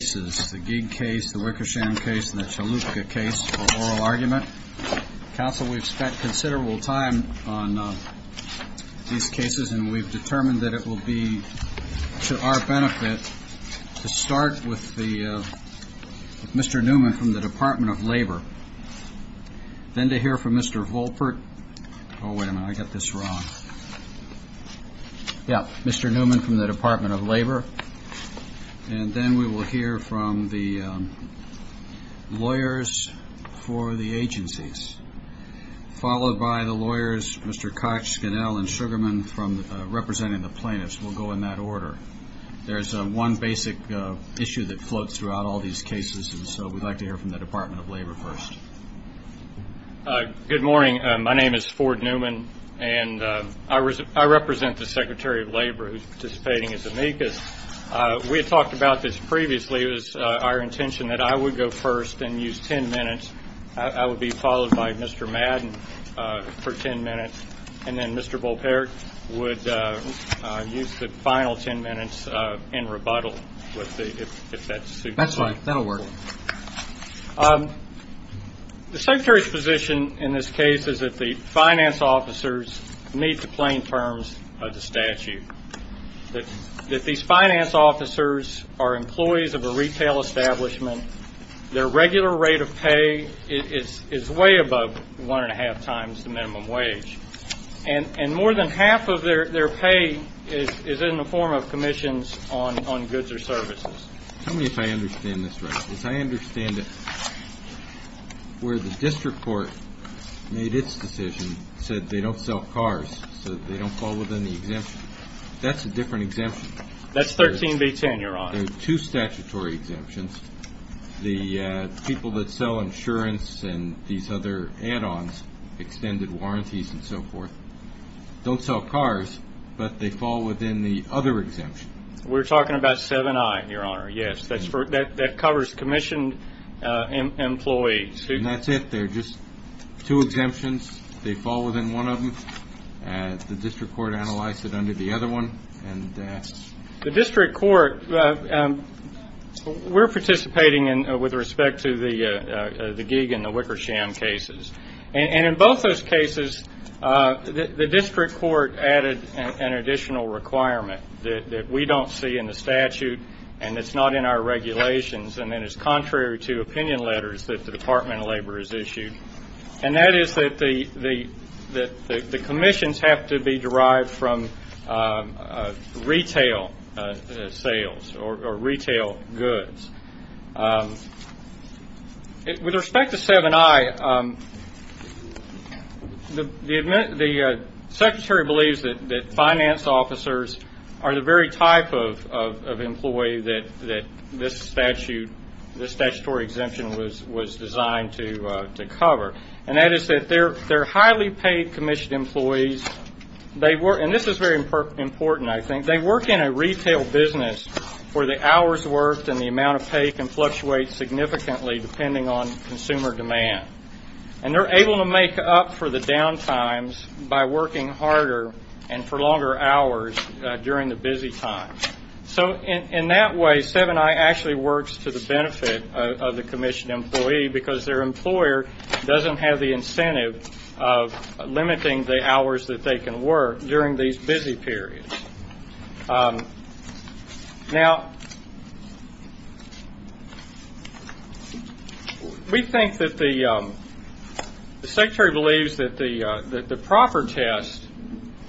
We've spent considerable time on these cases, and we've determined that it will be to our benefit to start with Mr. Newman from the Department of Labor, then to hear from Mr. Volpert, Mr. Newman from the Department of Labor, and then we will hear from the lawyers for the agencies, followed by the lawyers, Mr. Koch, Scannell, and Sugarman representing the plaintiffs. We'll go in that order. There's one basic issue that floats throughout all these cases, and so we'd like to hear from the Department of Labor first. Good morning. My name is Ford Newman, and I represent the Secretary of Labor who is participating as amicus. We had talked about this previously. It was our intention that I would go first and use ten minutes. I would be followed by Mr. Madden for ten minutes, and then Mr. Volpert would use the final ten minutes in rebuttal. That's all right. That'll work. The Secretary's position in this case is that the finance officers meet the plain terms of the statute, that these finance officers are employees of a retail establishment. Their regular rate of pay is way above one and a half times the minimum wage, and more than half of their pay is in the form of commissions on goods or services. Tell me if I understand this right. If I understand it where the district court made its decision, said they don't sell cars, so they don't fall within the exemption, that's a different exemption? That's 13B10, Your Honor. There are two statutory exemptions. The people that sell insurance and these other add-ons, extended warranties and so forth, don't sell cars, but they fall within the other exemption. We're talking about 7I, Your Honor, yes. That covers commissioned employees. And that's it. There are just two exemptions. They fall within one of them. The district court analyzed it under the other one. The district court, we're participating with respect to the Gieg and the Wickersham cases. And in both those cases, the district court added an additional requirement that we don't see in the statute, and it's not in our regulations, and then it's contrary to opinion letters that the Department of Labor has issued. And that is that the commissions have to be derived from retail sales or retail goods. With respect to 7I, the secretary believes that finance officers are the very type of employee that this statutory exemption was designed to cover. And that is that they're highly paid commissioned employees. And this is very important, I think. They work in a retail business where the hours worked and the amount of pay can fluctuate significantly depending on consumer demand. And they're able to make up for the down times by working harder and for longer hours during the busy time. So in that way, 7I actually works to the benefit of the commissioned employee, because their employer doesn't have the incentive of limiting the hours that they can work during these busy periods. Now, we think that the secretary believes that the proper test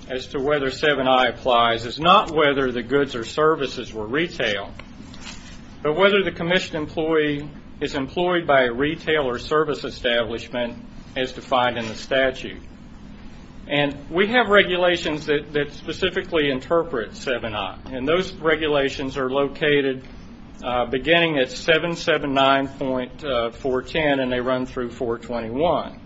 as to whether 7I applies is not whether the goods or services were retail, but whether the commissioned employee is employed by a retail or service establishment as defined in the statute. And we have regulations that specifically interpret 7I. And those regulations are located beginning at 779.410 and they run through 421.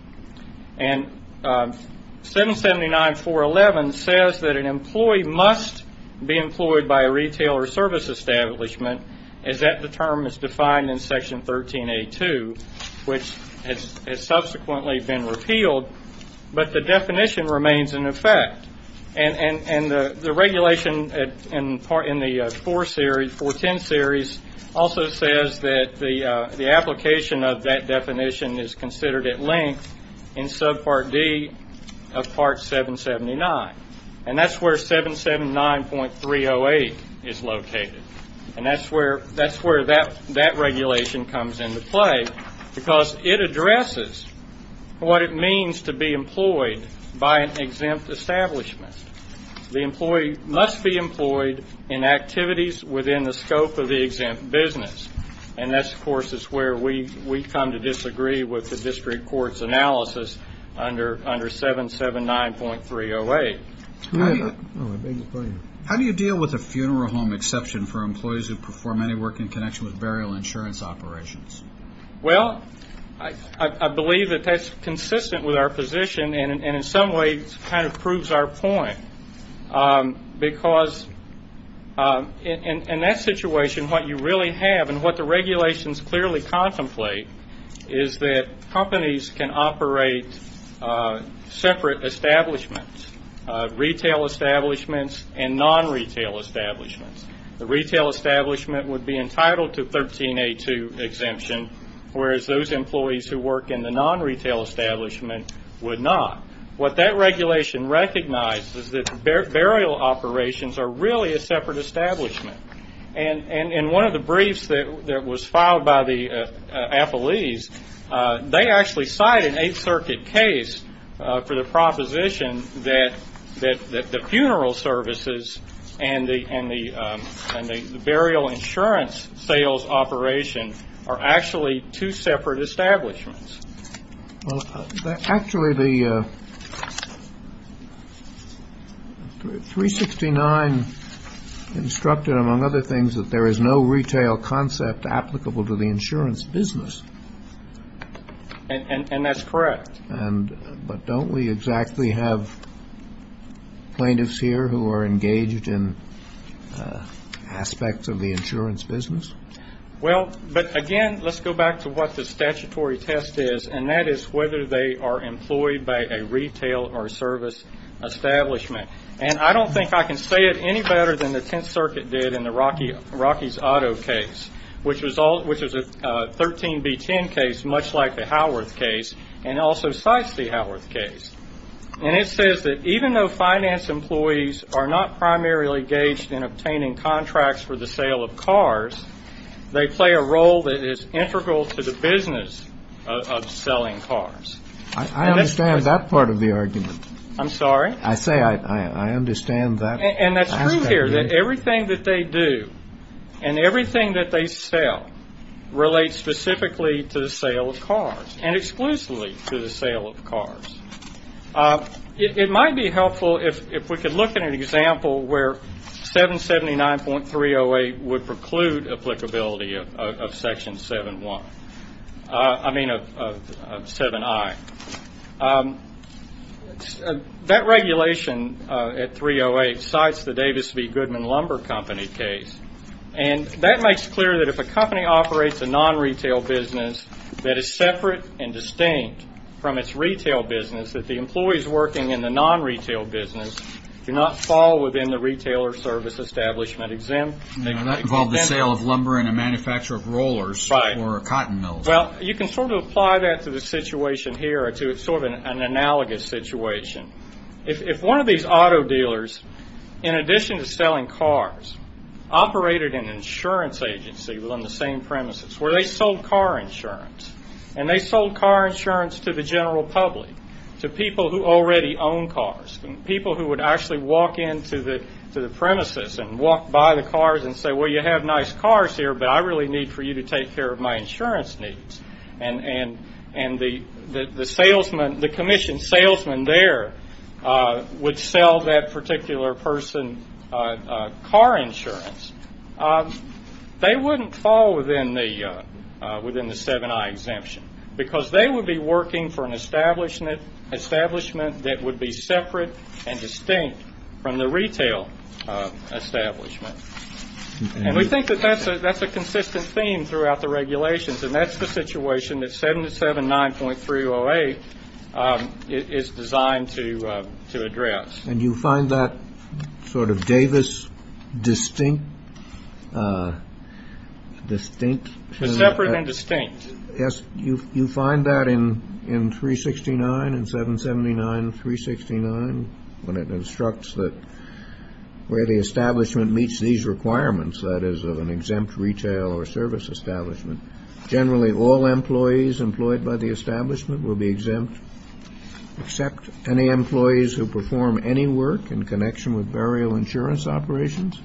And 779.411 says that an employee must be employed by a retail or service establishment, and that the term is defined in Section 13A.2, which has subsequently been repealed. But the definition remains in effect. And the regulation in the 410 series also says that the application of that definition is considered at length in subpart D of part 779. And that's where 779.308 is located. And that's where that regulation comes into play, because it addresses what it means to be employed by an exempt establishment. The employee must be employed in activities within the scope of the exempt business. And that, of course, is where we come to disagree with the district court's analysis under 779.308. How do you deal with a funeral home exception for employees who perform any work in connection with burial insurance operations? Well, I believe that that's consistent with our position and in some ways kind of proves our point, because in that situation what you really have and what the regulations clearly contemplate is that companies can operate separate establishments, retail establishments and non-retail establishments. The retail establishment would be entitled to 13A.2 exemption, whereas those employees who work in the non-retail establishment would not. What that regulation recognizes is that burial operations are really a separate establishment. And one of the briefs that was filed by the appellees, they actually cited an Eighth Circuit case for the proposition that the funeral services and the burial insurance sales operation are actually two separate establishments. Well, actually the 369 instructed, among other things, that there is no retail concept applicable to the insurance business. And that's correct. But don't we exactly have plaintiffs here who are engaged in aspects of the insurance business? Well, but again, let's go back to what the statutory test is, and that is whether they are employed by a retail or service establishment. And I don't think I can say it any better than the Tenth Circuit did in the Rockies Auto case, which is a 13B10 case much like the Howard case and also cites the Howard case. And it says that even though finance employees are not primarily engaged in obtaining contracts for the sale of cars, they play a role that is integral to the business of selling cars. I understand that part of the argument. I'm sorry? I say I understand that. And that's true here. Everything that they do and everything that they sell relates specifically to the sale of cars and exclusively to the sale of cars. It might be helpful if we could look at an example where 779.308 would preclude applicability of Section 7I. Let's go back. That regulation at 308 cites the Davis v. Goodman Lumber Company case, and that makes it clear that if a company operates a non-retail business that is separate and distinct from its retail business, that the employees working in the non-retail business do not fall within the retail or service establishment exemptions. Now, that involved the sale of lumber in a manufacturer of rollers or a cotton mill. Well, you can sort of apply that to the situation here or to sort of an analogous situation. If one of these auto dealers, in addition to selling cars, operated an insurance agency on the same premises where they sold car insurance, and they sold car insurance to the general public, to people who already own cars, and people who would actually walk into the premises and walk by the cars and say, And the commission salesman there would sell that particular person car insurance. They wouldn't fall within the 7I exemption because they would be working for an establishment that would be separate and distinct from the retail establishment. And we think that that's a consistent theme throughout the regulations, and that's the situation that 779.308 is designed to address. And you find that sort of Davis distinct? Separate and distinct. Yes, you find that in 369 and 779.369, when it instructs that where the establishment meets these requirements, that is, of an exempt retail or service establishment, generally all employees employed by the establishment will be exempt, except any employees who perform any work in connection with burial insurance operations?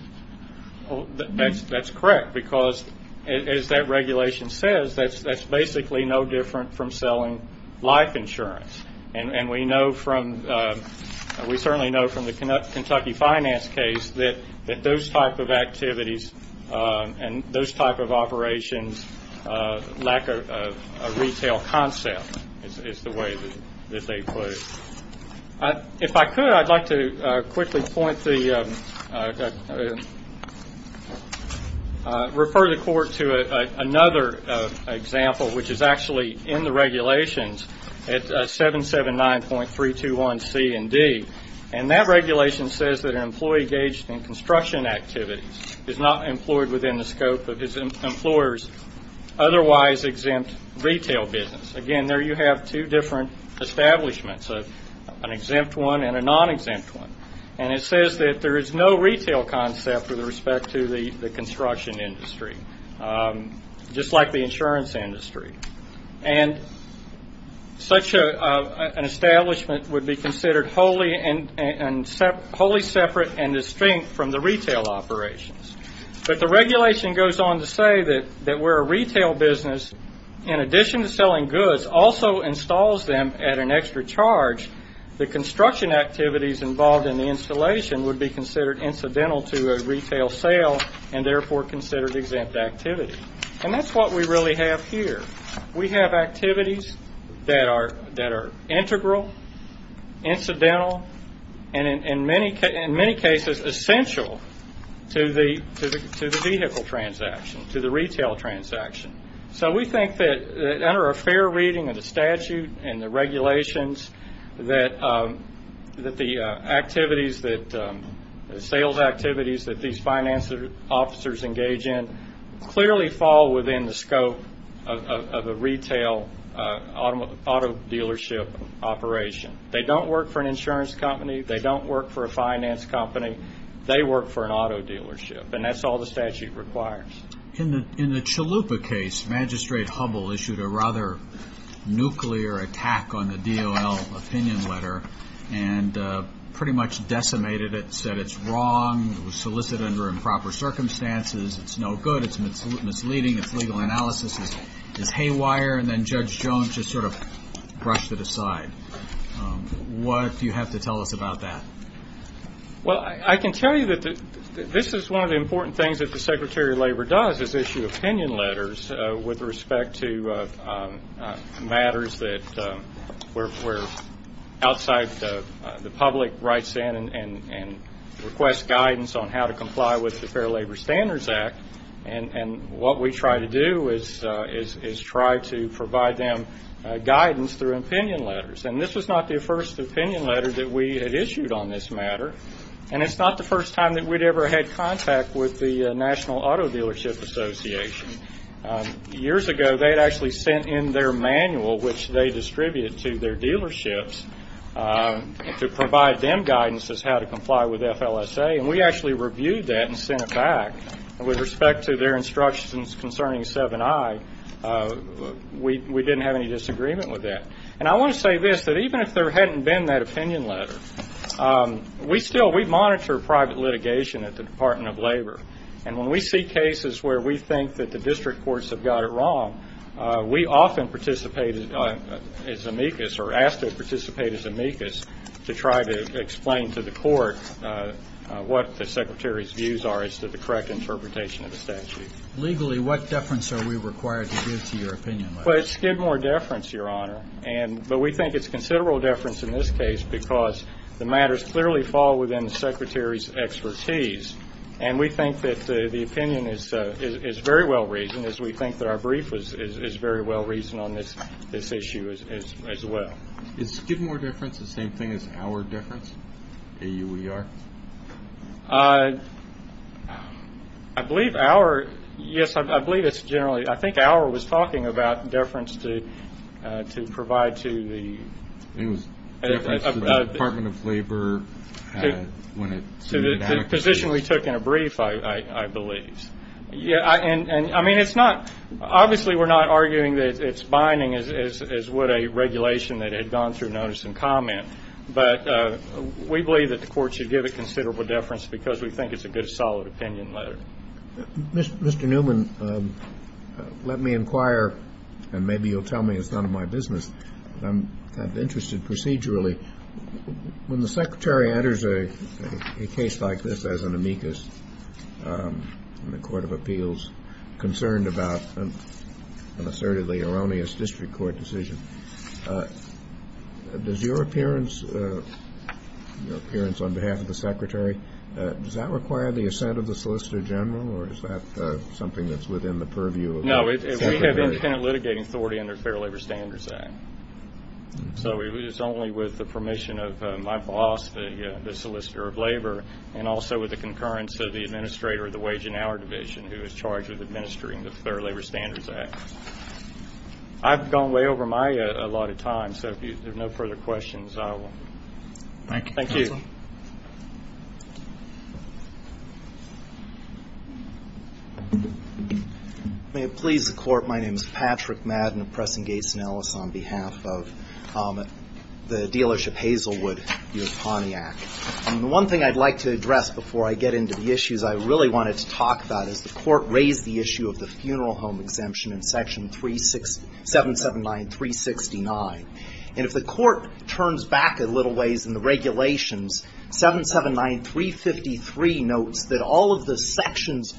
That's correct, because as that regulation says, that's basically no different from selling life insurance. And we certainly know from the Kentucky Finance case that those type of activities and those type of operations lack a retail concept, is the way that they put it. If I could, I'd like to quickly refer the Court to another example, which is actually in the regulations at 779.321C and D. And that regulation says that an employee engaged in construction activities is not employed within the scope of his employer's otherwise exempt retail business. Again, there you have two different establishments, an exempt one and a non-exempt one. And it says that there is no retail concept with respect to the construction industry, just like the insurance industry. And such an establishment would be considered wholly separate and distinct from the retail operations. But the regulation goes on to say that where a retail business, in addition to selling goods, also installs them at an extra charge, the construction activities involved in the installation would be considered incidental to a retail sale and therefore considered exempt activity. And that's what we really have here. We have activities that are integral, incidental, and in many cases essential to the vehicle transaction, to the retail transaction. So we think that under a fair reading of the statute and the regulations, that the activities, sales activities that these finance officers engage in clearly fall within the scope of a retail auto dealership operation. They don't work for an insurance company. They don't work for a finance company. They work for an auto dealership. And that's all the statute requires. In the Chalupa case, Magistrate Hubbell issued a rather nuclear attack on the DOL opinion letter and pretty much decimated it, said it's wrong, solicited under improper circumstances, it's no good, it's misleading, it's legal analysis, it's haywire, and then Judge Jones just sort of brushed it aside. What do you have to tell us about that? Well, I can tell you that this is one of the important things that the Secretary of Labor does, is issue opinion letters with respect to matters that were outside the public rights and request guidance on how to comply with the Fair Labor Standards Act. And what we try to do is try to provide them guidance through opinion letters. And this was not the first opinion letter that we had issued on this matter, and it's not the first time that we'd ever had contact with the National Auto Dealership Association. Years ago, they had actually sent in their manual, which they distribute to their dealerships, to provide them guidance as how to comply with FLSA, and we actually reviewed that and sent it back with respect to their instructions concerning 7i. We didn't have any disagreement with that. And I want to say this, that even if there hadn't been that opinion letter, we still monitor private litigation at the Department of Labor. And when we see cases where we think that the district courts have got it wrong, we often participate as amicus, or ask to participate as amicus, to try to explain to the court what the Secretary's views are as to the correct interpretation of the statute. Legally, what deference are we required to give to your opinion letter? Well, it's Skidmore deference, Your Honor, but we think it's considerable deference in this case because the matters clearly fall within the Secretary's expertise, and we think that the opinion is very well reasoned, as we think that our brief is very well reasoned on this issue as well. Is Skidmore deference the same thing as Auer deference, A-U-E-R? I believe Auer, yes, I believe it's generally, I think Auer was talking about deference to provide to the... It was deference to the Department of Labor when it... The position we took in a brief, I believe. I mean, it's not, obviously we're not arguing that it's binding, as would a regulation that had gone through notice and comment, but we believe that the court should give it considerable deference because we think it's a good, solid opinion letter. Mr. Newman, let me inquire, and maybe you'll tell me as none of my business, but I'm kind of interested procedurally. When the Secretary enters a case like this as an amicus in the Court of Appeals, concerned about an assertively erroneous district court decision, does your appearance on behalf of the Secretary, does that require the assent of the Solicitor General, or is that something that's within the purview of... No, we have independent litigating authority under the Fair Labor Standards Act. So it is only with the permission of my boss, the Solicitor of Labor, and also with the concurrence of the Administrator of the Wage and Hour Division, who is charged with administering the Fair Labor Standards Act. I've gone way over my head a lot of times, so if there's no further questions, I will... Thank you. May it please the Court, my name is Patrick Madden of Preston Gates & Ellis, on behalf of the dealership Hazelwood, U.S. Pontiac. One thing I'd like to address before I get into the issues I really wanted to talk about is the Court raised the issue of the funeral home exemption in Section 779-369. And if the Court turns back a little ways in the regulations, 779-353 notes that all of the sections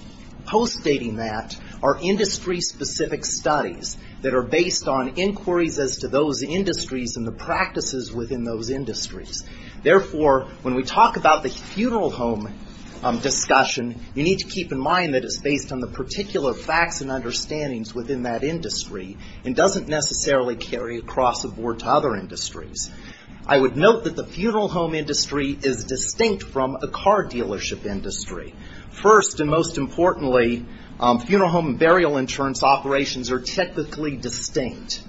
postdating that are industry-specific studies that are based on inquiries as to those industries and the practices within those industries. Therefore, when we talk about the funeral home discussion, you need to keep in mind that it's based on the particular facts and understandings within that industry, and doesn't necessarily carry across the board to other industries. I would note that the funeral home industry is distinct from a car dealership industry. First, and most importantly, funeral home and burial insurance operations are technically distinct.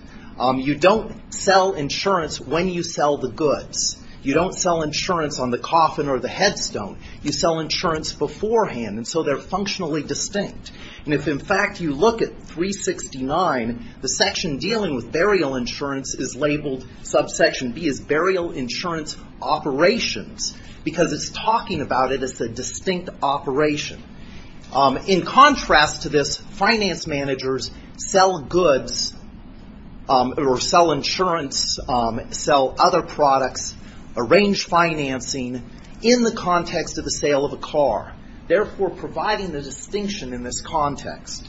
You don't sell insurance when you sell the goods. You don't sell insurance on the coffin or the headstone. You sell insurance beforehand, and so they're functionally distinct. And if, in fact, you look at 369, the section dealing with burial insurance is labeled, Subsection B is Burial Insurance Operations, because it's talking about it as a distinct operation. In contrast to this, finance managers sell goods, or sell insurance, sell other products, arrange financing in the context of the sale of a car, therefore providing the distinction in this context.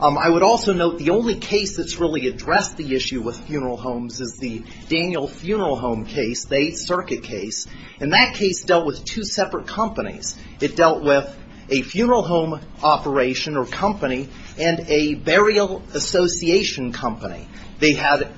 I would also note the only case that's really addressed the issue with funeral homes is the Daniel Funeral Home case, the 8th Circuit case. And that case dealt with two separate companies. It dealt with a funeral home operation or company, and a burial association company. They had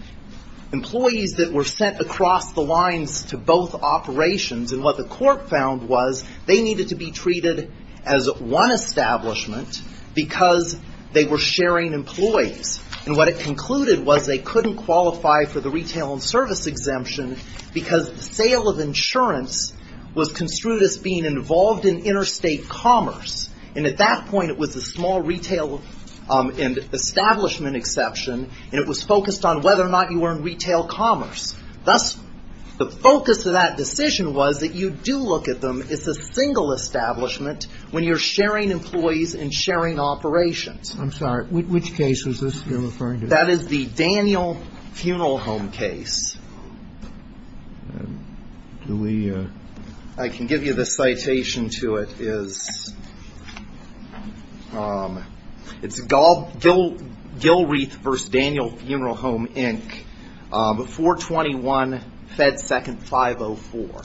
employees that were sent across the lines to both operations, and what the court found was they needed to be treated as one establishment because they were sharing employees. And what it concluded was they couldn't qualify for the retail and service exemption because the sale of insurance was construed as being involved in interstate commerce. And at that point it was a small retail establishment exception, and it was focused on whether or not you were in retail commerce. Thus, the focus of that decision was that you do look at them as a single establishment when you're sharing employees and sharing operations. I'm sorry, which case is this you're referring to? That is the Daniel Funeral Home case. I can give you the citation to it. It's Gilreath v. Daniel Funeral Home, Inc., 421 Fed 2nd 504.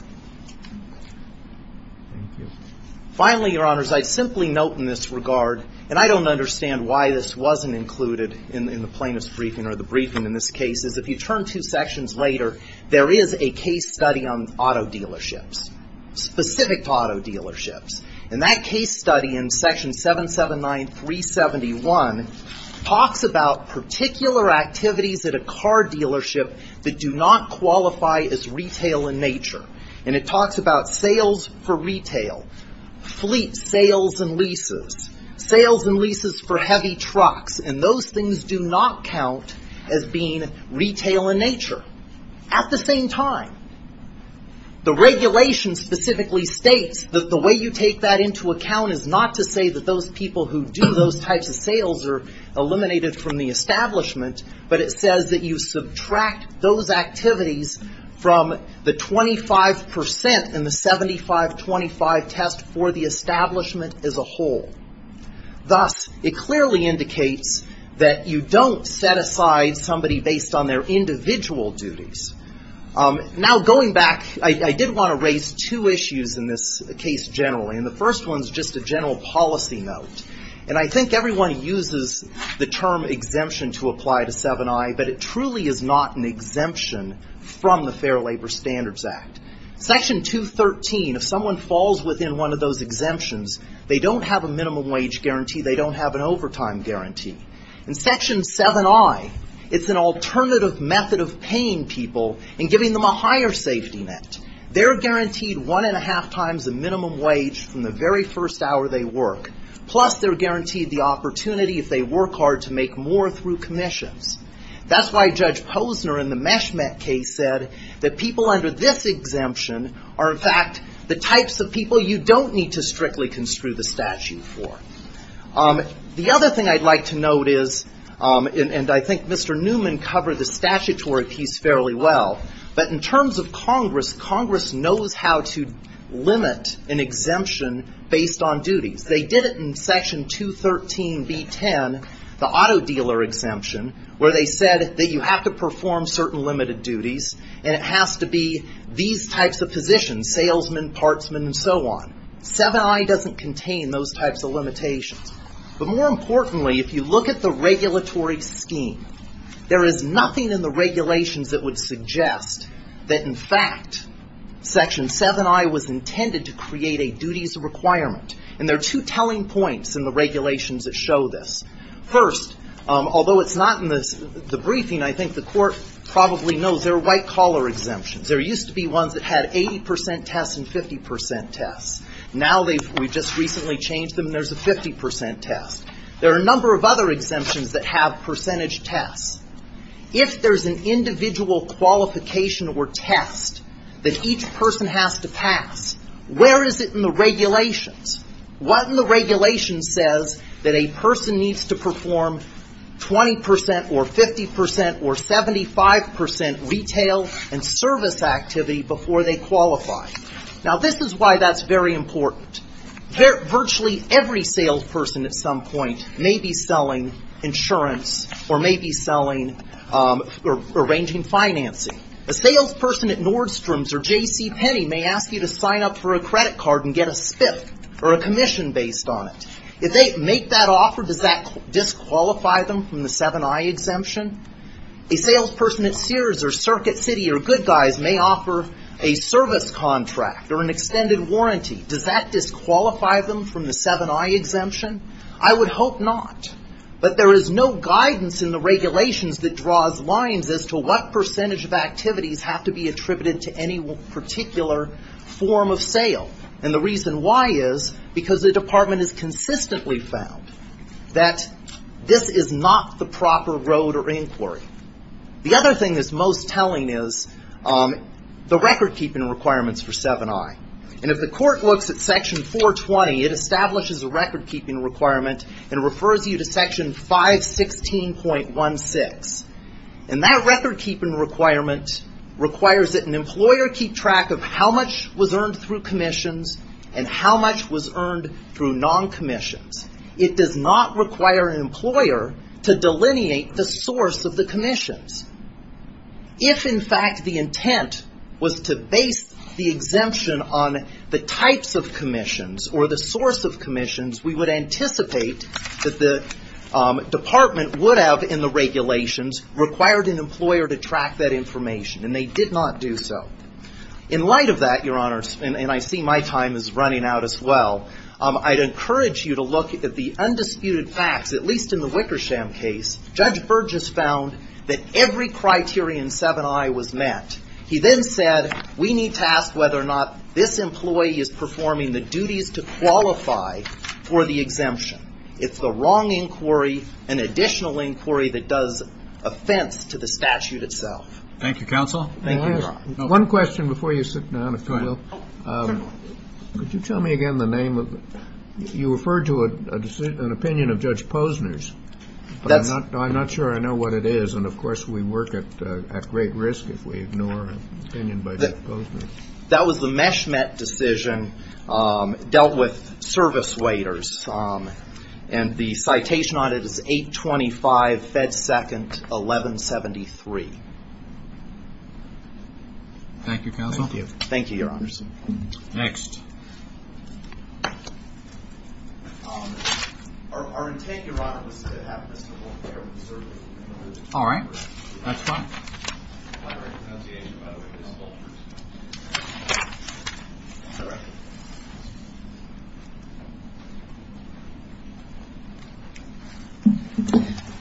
Finally, Your Honors, I'd simply note in this regard, and I don't understand why this wasn't included in the plaintiff's briefing or the briefing in this case, is if you turn two sections later, there is a case study on auto dealerships, specific auto dealerships. And that case study in section 779-371 talks about particular activities at a car dealership that do not qualify as retail in nature. And it talks about sales for retail, fleet sales and leases, sales and leases for heavy trucks, and those things do not count as being retail in nature. At the same time, the regulation specifically states that the way you take that into account is not to say that those people who do those types of sales are eliminated from the establishment, but it says that you subtract those activities from the 25 percent in the 75-25 test for the establishment as a whole. Thus, it clearly indicates that you don't set aside somebody based on their individual duties. Now, going back, I did want to raise two issues in this case generally, and the first one is just a general policy note. And I think everyone uses the term exemption to apply to 7i, but it truly is not an exemption from the Fair Labor Standards Act. Section 213, if someone falls within one of those exemptions, they don't have a minimum wage guarantee, they don't have an overtime guarantee. In Section 7i, it's an alternative method of paying people and giving them a higher safety net. They're guaranteed one and a half times the minimum wage from the very first hour they work. Plus, they're guaranteed the opportunity if they work hard to make more through commissions. That's why Judge Posner in the MESHMET case said that people under this exemption are, in fact, the types of people you don't need to strictly construe the statute for. The other thing I'd like to note is, and I think Mr. Newman covered this statutory piece fairly well, but in terms of Congress, Congress knows how to limit an exemption based on duties. They did it in Section 213b-10, the auto dealer exemption, where they said that you have to perform certain limited duties, and it has to be these types of positions, salesman, partsman, and so on. 7i doesn't contain those types of limitations. But more importantly, if you look at the regulatory scheme, there is nothing in the regulations that would suggest that, in fact, Section 7i was intended to create a duties requirement. And there are two telling points in the regulations that show this. First, although it's not in the briefing, I think the court probably knows there are white-collar exemptions. There used to be ones that had 80% tests and 50% tests. Now we've just recently changed them, and there's a 50% test. There are a number of other exemptions that have percentage tests. If there's an individual qualification or test that each person has to pass, where is it in the regulations? What in the regulations says that a person needs to perform 20% or 50% or 75% retail and service activity before they qualify? Now this is why that's very important. Virtually every salesperson at some point may be selling insurance or may be selling or arranging financing. A salesperson at Nordstrom's or J.C. Penney may ask you to sign up for a credit card and get a fifth or a commission based on it. If they make that offer, does that disqualify them from the 7i exemption? A salesperson at Sears or Circuit City or GoodGuys may offer a service contract or an extended warranty. Does that disqualify them from the 7i exemption? I would hope not. But there is no guidance in the regulations that draws lines as to what percentage of activities have to be attributed to any particular form of sale. And the reason why is because the department has consistently found that this is not the proper road or inquiry. The other thing that's most telling is the record keeping requirements for 7i. And if the court looks at section 420, it establishes a record keeping requirement and refers you to section 516.16. And that record keeping requirement requires that an employer keep track of how much was earned through commissions and how much was earned through non-commissions. It does not require an employer to delineate the source of the commissions. If, in fact, the intent was to base the exemption on the types of commissions or the source of commissions, we would anticipate that the department would have in the regulations required an employer to track that information. And they did not do so. In light of that, Your Honor, and I see my time is running out as well, I'd encourage you to look at the undisputed fact, at least in the Wickersham case, Judge Burgess found that every criteria in 7i was met. He then said, we need to ask whether or not this employee is performing the duties to qualify for the exemption. It's the wrong inquiry, an additional inquiry that does offense to the statute itself. Thank you, Counsel. One question before you sit down, if you will. Could you tell me again the name of, you referred to an opinion of Judge Posner's, but I'm not sure I know what it is, and of course we work at great risk if we ignore an opinion by Judge Posner. That was a MESHMET decision, dealt with service waiters, and the citation on it is 825 Fed Second 1173. Thank you, Counsel. Thank you, Your Honors. Next. Our intent, Your Honor, is to have a simple fair and certainty. All right. That's fine.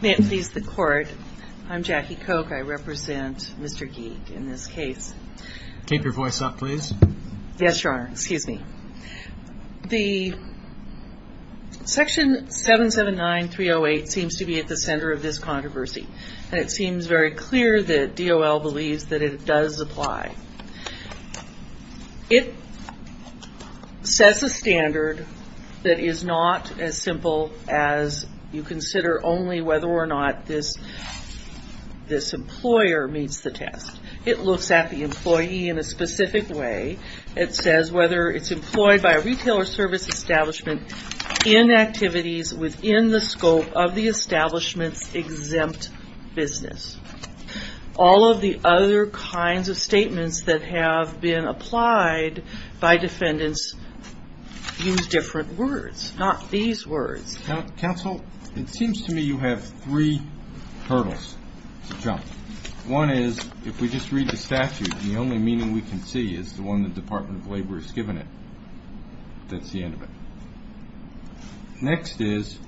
May it please the Court, I'm Jackie Koch, I represent Mr. Geek in this case. Keep your voice up, please. Yes, Your Honor. Excuse me. The Section 779-308 seems to be at the center of this controversy. It seems very clear that DOL believes that it does apply. It sets a standard that is not as simple as you consider only whether or not this employer meets the task. It looks at the employee in a specific way. It says whether it's employed by a retail or service establishment in activities within the scope of the establishment's exempt business. All of the other kinds of statements that have been applied by defendants in different words, not these words. Counsel, it seems to me you have three hurdles to jump. One is, if we just read the statute, the only meaning we can see is the one the Department of Labor has given it. That's the end of it. Next is,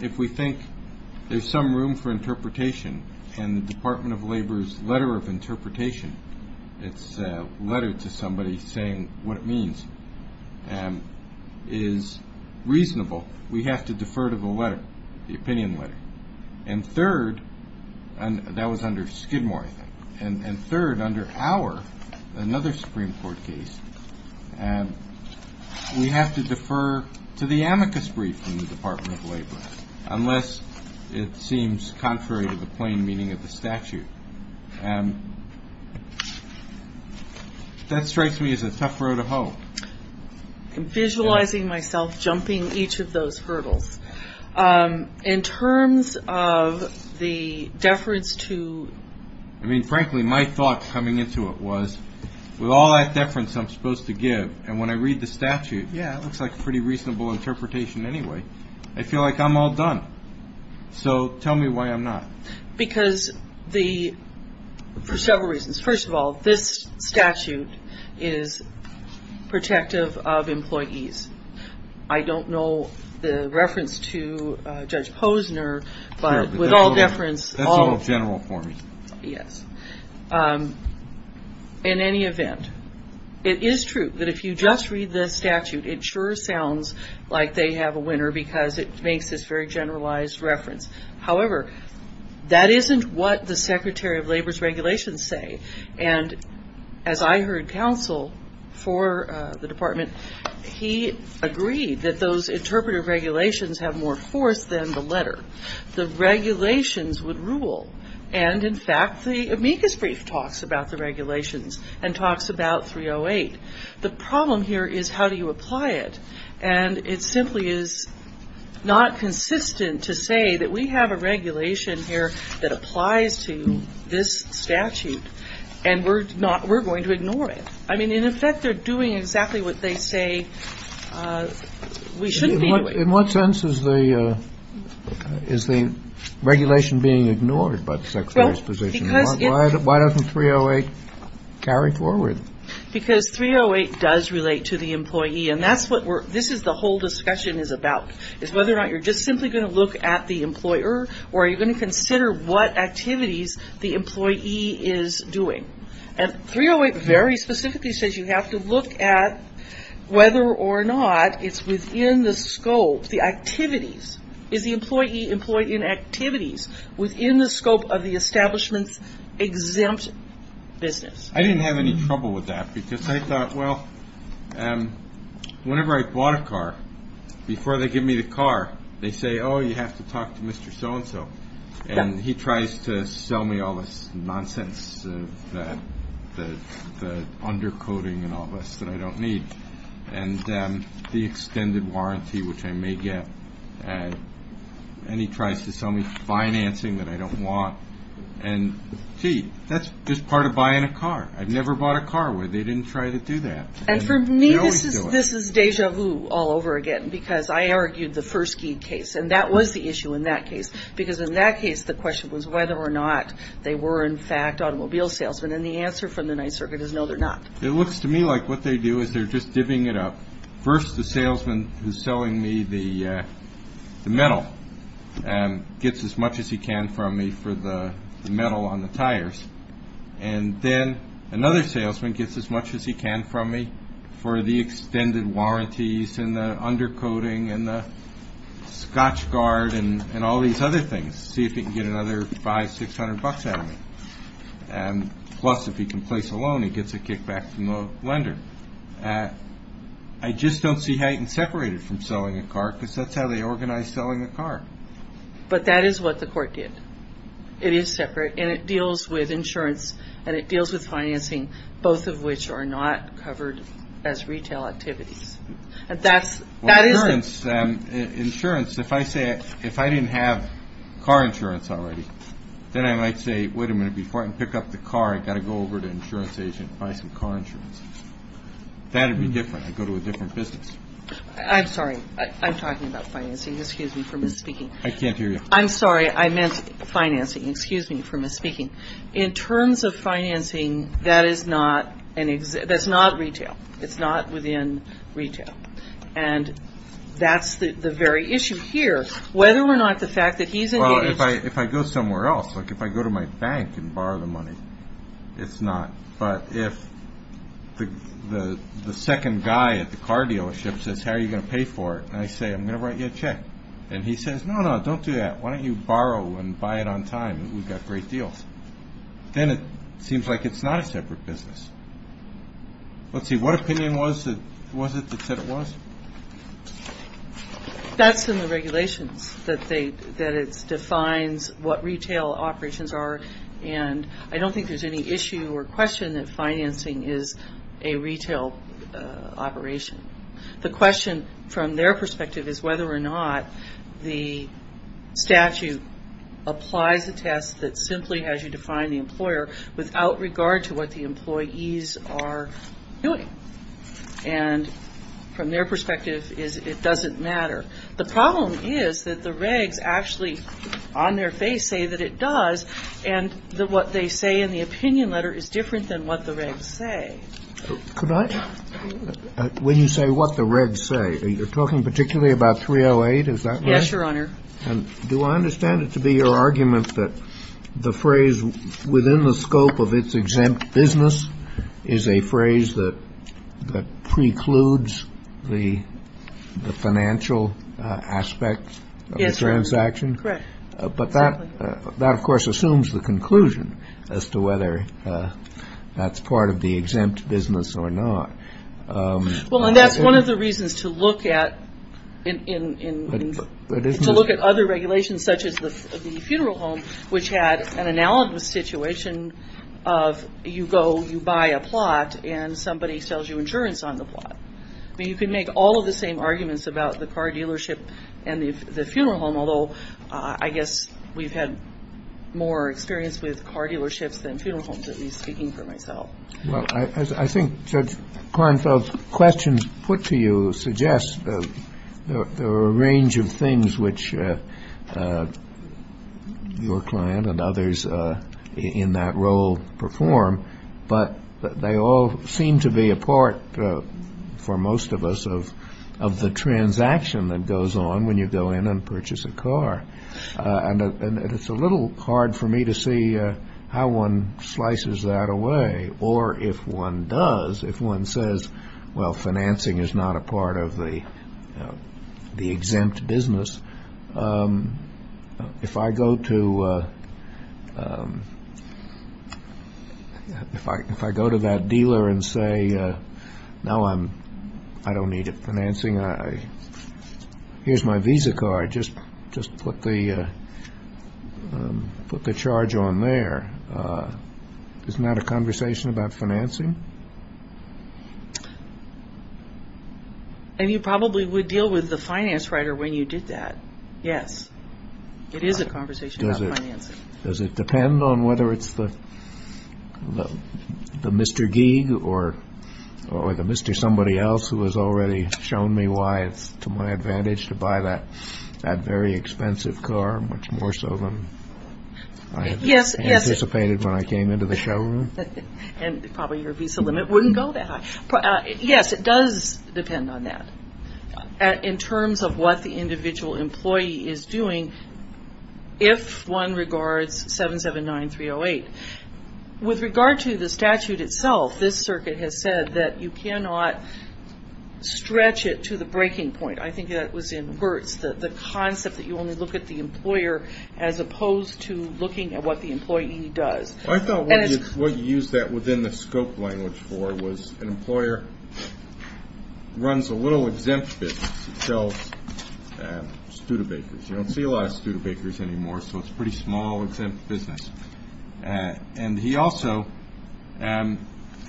if we think there's some room for interpretation, can the Department of Labor's letter of interpretation, its letter to somebody saying what it means, is reasonable, we have to defer to the letter, the opinion letter. And third, that was under Skidmore, I think. And third, under Hauer, another Supreme Court case, we have to defer to the amicus brief from the Department of Labor, unless it seems contrary to the plain meaning of the statute. And that strikes me as a tough road to hoe. I'm visualizing myself jumping each of those hurdles. In terms of the deference to... I mean, frankly, my thought coming into it was, with all that deference I'm supposed to give, and when I read the statute, yeah, it looks like a pretty reasonable interpretation anyway. I feel like I'm all done. So tell me why I'm not. Because the... for several reasons. First of all, this statute is protective of employees. I don't know the reference to Judge Posner, but with all deference... That's all general form. Yes. In any event, it is true that if you just read the statute, it sure sounds like they have a winner because it makes this very generalized reference. However, that isn't what the Secretary of Labor's regulations say. And as I heard counsel for the department, he agreed that those interpretive regulations have more force than the letter. The regulations would rule. And, in fact, the amicus brief talks about the regulations and talks about 308. The problem here is how do you apply it? And it simply is not consistent to say that we have a regulation here that applies to this statute, and we're going to ignore it. I mean, in effect, they're doing exactly what they say we should be doing. In what sense is the regulation being ignored by the Secretary's position? Why doesn't 308 carry forward? Because 308 does relate to the employee, and that's what this whole discussion is about, is whether or not you're just simply going to look at the employer or are you going to consider what activities the employee is doing. And 308 very specifically says you have to look at whether or not it's within the scope, the activities. Is the employee employed in activities within the scope of the establishment's exempt business? I didn't have any trouble with that because I thought, well, whenever I bought a car, before they give me the car, they say, oh, you have to talk to Mr. So-and-so. And he tries to sell me all this nonsense, the undercoding and all this that I don't need, and the extended warranty, which I may get. And he tries to sell me financing that I don't want. And see, that's just part of buying a car. I've never bought a car where they didn't try to do that. And for me, this is deja vu all over again because I argued the first case, and that was the issue in that case. Because in that case, the question was whether or not they were, in fact, automobile salesmen. And the answer from the Ninth Circuit is no, they're not. It looks to me like what they do is they're just divvying it up. First, the salesman who's selling me the metal gets as much as he can from me for the metal on the tires. And then another salesman gets as much as he can from me for the extended warranties and the undercoding and the scotch guard and all these other things to see if he can get another $500, $600 out of me. Plus, if he can place a loan, he gets a kickback from the lender. I just don't see how you can separate it from selling a car because that's how they organize selling a car. But that is what the court did. It is separate, and it deals with insurance, and it deals with financing, both of which are not covered as retail activities. Insurance, if I didn't have car insurance already, then I might say, wait a minute, before I can pick up the car, I've got to go over to an insurance agent and find some car insurance. That would be different. I'd go to a different business. I'm sorry. I'm talking about financing. Excuse me for misspeaking. I can't hear you. I'm sorry. I meant financing. Excuse me for misspeaking. In terms of financing, that is not retail. It's not within retail. And that's the very issue here. Whether or not the fact that he's engaging... Well, if I go somewhere else, like if I go to my bank and borrow the money, it's not. But if the second guy at the car dealership says, And I say, I'm going to write you a check. And he says, no, no, don't do that. Why don't you borrow and buy it on time? We've got great deals. Then it seems like it's not a separate business. Let's see. What opinion was it that said it was? That's in the regulations that it defines what retail operations are. And I don't think there's any issue or question that financing is a retail operation. The question from their perspective is whether or not the statute applies a test that simply has you define the employer without regard to what the employees are doing. And from their perspective, it doesn't matter. The problem is that the regs actually on their face say that it does. And what they say in the opinion letter is different than what the regs say. When you say what the regs say, you're talking particularly about 308. Is that right? Yes, Your Honor. Do I understand it to be your argument that the phrase within the scope of its exempt business is a phrase that precludes the financial aspect of the transaction? Correct. But that, of course, assumes the conclusion as to whether that's part of the exempt business or not. Well, and that's one of the reasons to look at other regulations such as the funeral home, which had an analogous situation of you go, you buy a plot, and somebody sells you insurance on the plot. You can make all of the same arguments about the car dealership and the funeral home, although I guess we've had more experience with car dealerships than funeral homes, at least speaking for myself. Well, I think Judge Kornfeld's questions put to you suggest there are a range of things which your client and others in that role perform, but they all seem to be a part, for most of us, of the transaction that goes on when you go in and purchase a car. And it's a little hard for me to see how one slices that away. Or if one does, if one says, well, financing is not a part of the exempt business, if I go to that dealer and say, no, I don't need financing. Here's my visa card. Just put the charge on there. Isn't that a conversation about financing? And you probably would deal with the finance writer when you did that. Yes, it is a conversation about financing. Does it depend on whether it's the Mr. Gig or the Mr. Somebody Else who has already shown me why it's to my advantage to buy that very expensive car, much more so than I anticipated when I came into the showroom? And probably your visa limit wouldn't go that high. Yes, it does depend on that. In terms of what the individual employee is doing, if one regards 779-308, with regard to the statute itself, this circuit has said that you cannot stretch it to the breaking point. I think that was in Burt's, the concept that you only look at the employer as opposed to looking at what the employee does. I thought what you used that within the scope language for was an employer runs a little exempt business to sell Studebakers. You don't see a lot of Studebakers anymore, so it's a pretty small exempt business. And he also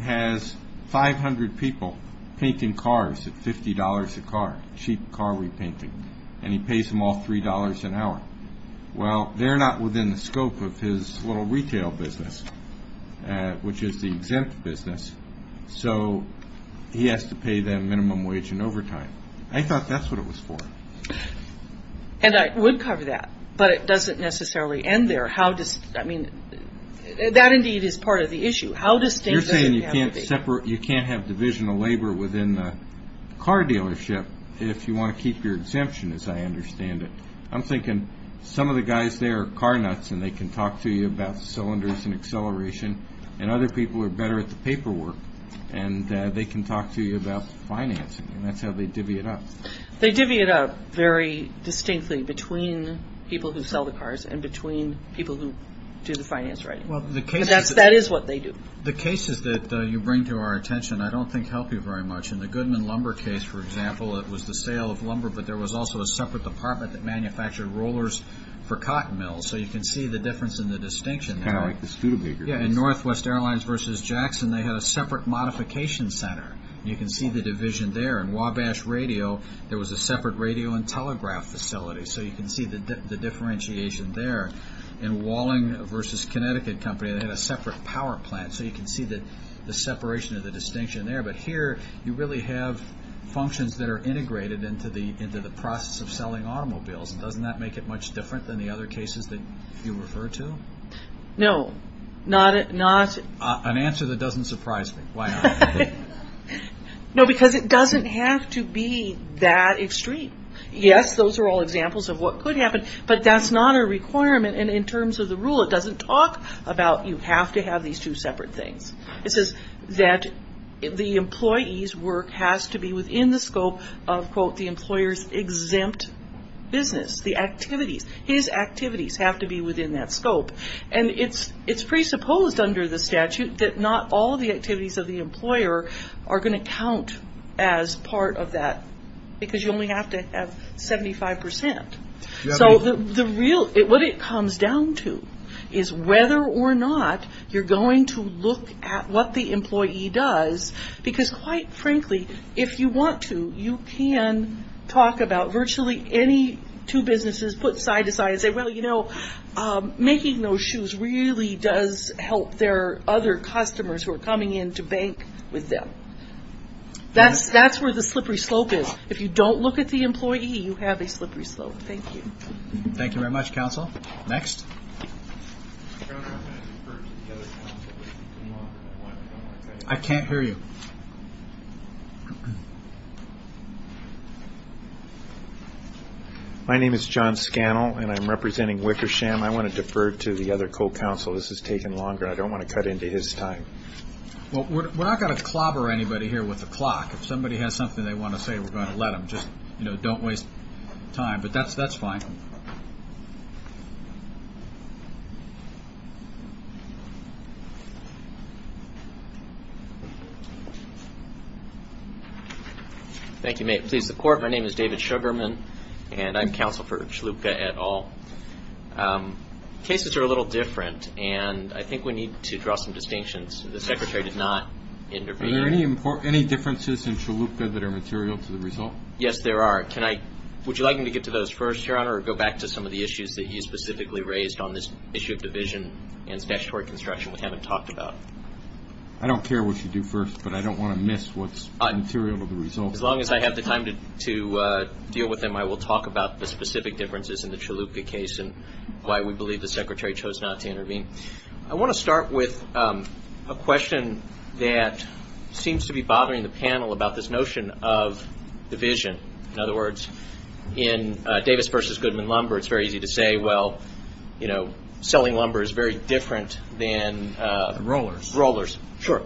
has 500 people painting cars at $50 a car, cheap car repainting, and he pays them all $3 an hour. Well, they're not within the scope of his little retail business, which is the exempt business, so he has to pay that minimum wage in overtime. I thought that's what it was for. And I would cover that, but it doesn't necessarily end there. How does, I mean, that indeed is part of the issue. You're saying you can't have divisional labor within the car dealership if you want to keep your exemption, as I understand it. I'm thinking some of the guys there are car nuts, and they can talk to you about cylinders and acceleration, and other people are better at the paperwork, and they can talk to you about financing, and that's how they divvy it up. They divvy it up very distinctly between people who sell the cars and between people who do the finance writing. That is what they do. The cases that you bring to our attention I don't think help you very much. In the Goodman lumber case, for example, it was the sale of lumber, but there was also a separate department that manufactured rollers for cotton mills, so you can see the difference in the distinction there. In Northwest Airlines v. Jackson, they had a separate modification center. You can see the division there. In Wabash Radio, there was a separate radio and telegraph facility, so you can see the differentiation there. In Walling v. Connecticut Company, they had a separate power plant, so you can see the separation of the distinction there. But here, you really have functions that are integrated into the process of selling automobiles. Doesn't that make it much different than the other cases that you refer to? No. An answer that doesn't surprise me. Why not? No, because it doesn't have to be that extreme. Yes, those are all examples of what could happen, but that's not a requirement, and in terms of the rule, it doesn't talk about you have to have these two separate things. It says that the employee's work has to be within the scope of, quote, the employer's exempt business, the activities. His activities have to be within that scope, and it's presupposed under the statute that not all the activities of the employer are going to count as part of that, because you only have to have 75%. So what it comes down to is whether or not you're going to look at what the employee does, because quite frankly, if you want to, you can talk about virtually any two businesses put side to side and say, well, you know, making those shoes really does help their other customers who are coming in to bank with them. That's where the slippery slope is. If you don't look at the employee, you have a slippery slope. Thank you. Thank you very much, counsel. Next. I can't hear you. My name is John Scannell, and I'm representing Wickersham. I want to defer to the other co-counsel. This has taken longer. I don't want to cut into his time. Well, we're not going to clobber anybody here with a clock. If somebody has something they want to say, we're going to let them. Just, you know, don't waste time. But that's fine. Thank you. May it please the Court. My name is David Sugarman, and I'm counsel for Schlupka et al. Cases are a little different, and I think we need to draw some distinctions. The Secretary did not intervene. Are there any differences in Schlupka that are material to the result? Yes, there are. Would you like me to get to those first, Your Honor, or go back to some of the issues that you specifically raised on this issue of division and statutory construction we haven't talked about? I don't care what you do first, but I don't want to miss what's material to the result. As long as I have the time to deal with them, I will talk about the specific differences in the Schlupka case and why we believe the Secretary chose not to intervene. I want to start with a question that seems to be bothering the panel about this notion of division. In other words, in Davis v. Goodman Lumber, it's very easy to say, well, you know, selling lumber is very different than rollers. Sure.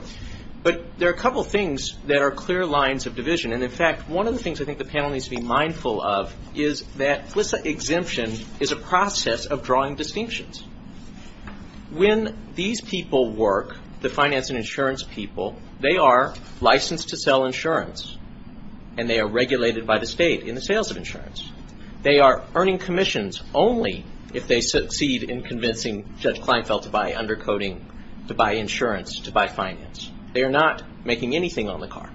But there are a couple things that are clear lines of division. And, in fact, one of the things I think the panel needs to be mindful of is that FLISA exemption is a process of drawing distinctions. When these people work, the finance and insurance people, they are licensed to sell insurance, and they are regulated by the state in the sales of insurance. They are earning commissions only if they succeed in convincing Judge Kleinfeld to buy undercoating, to buy insurance, to buy finance. They are not making anything on the car.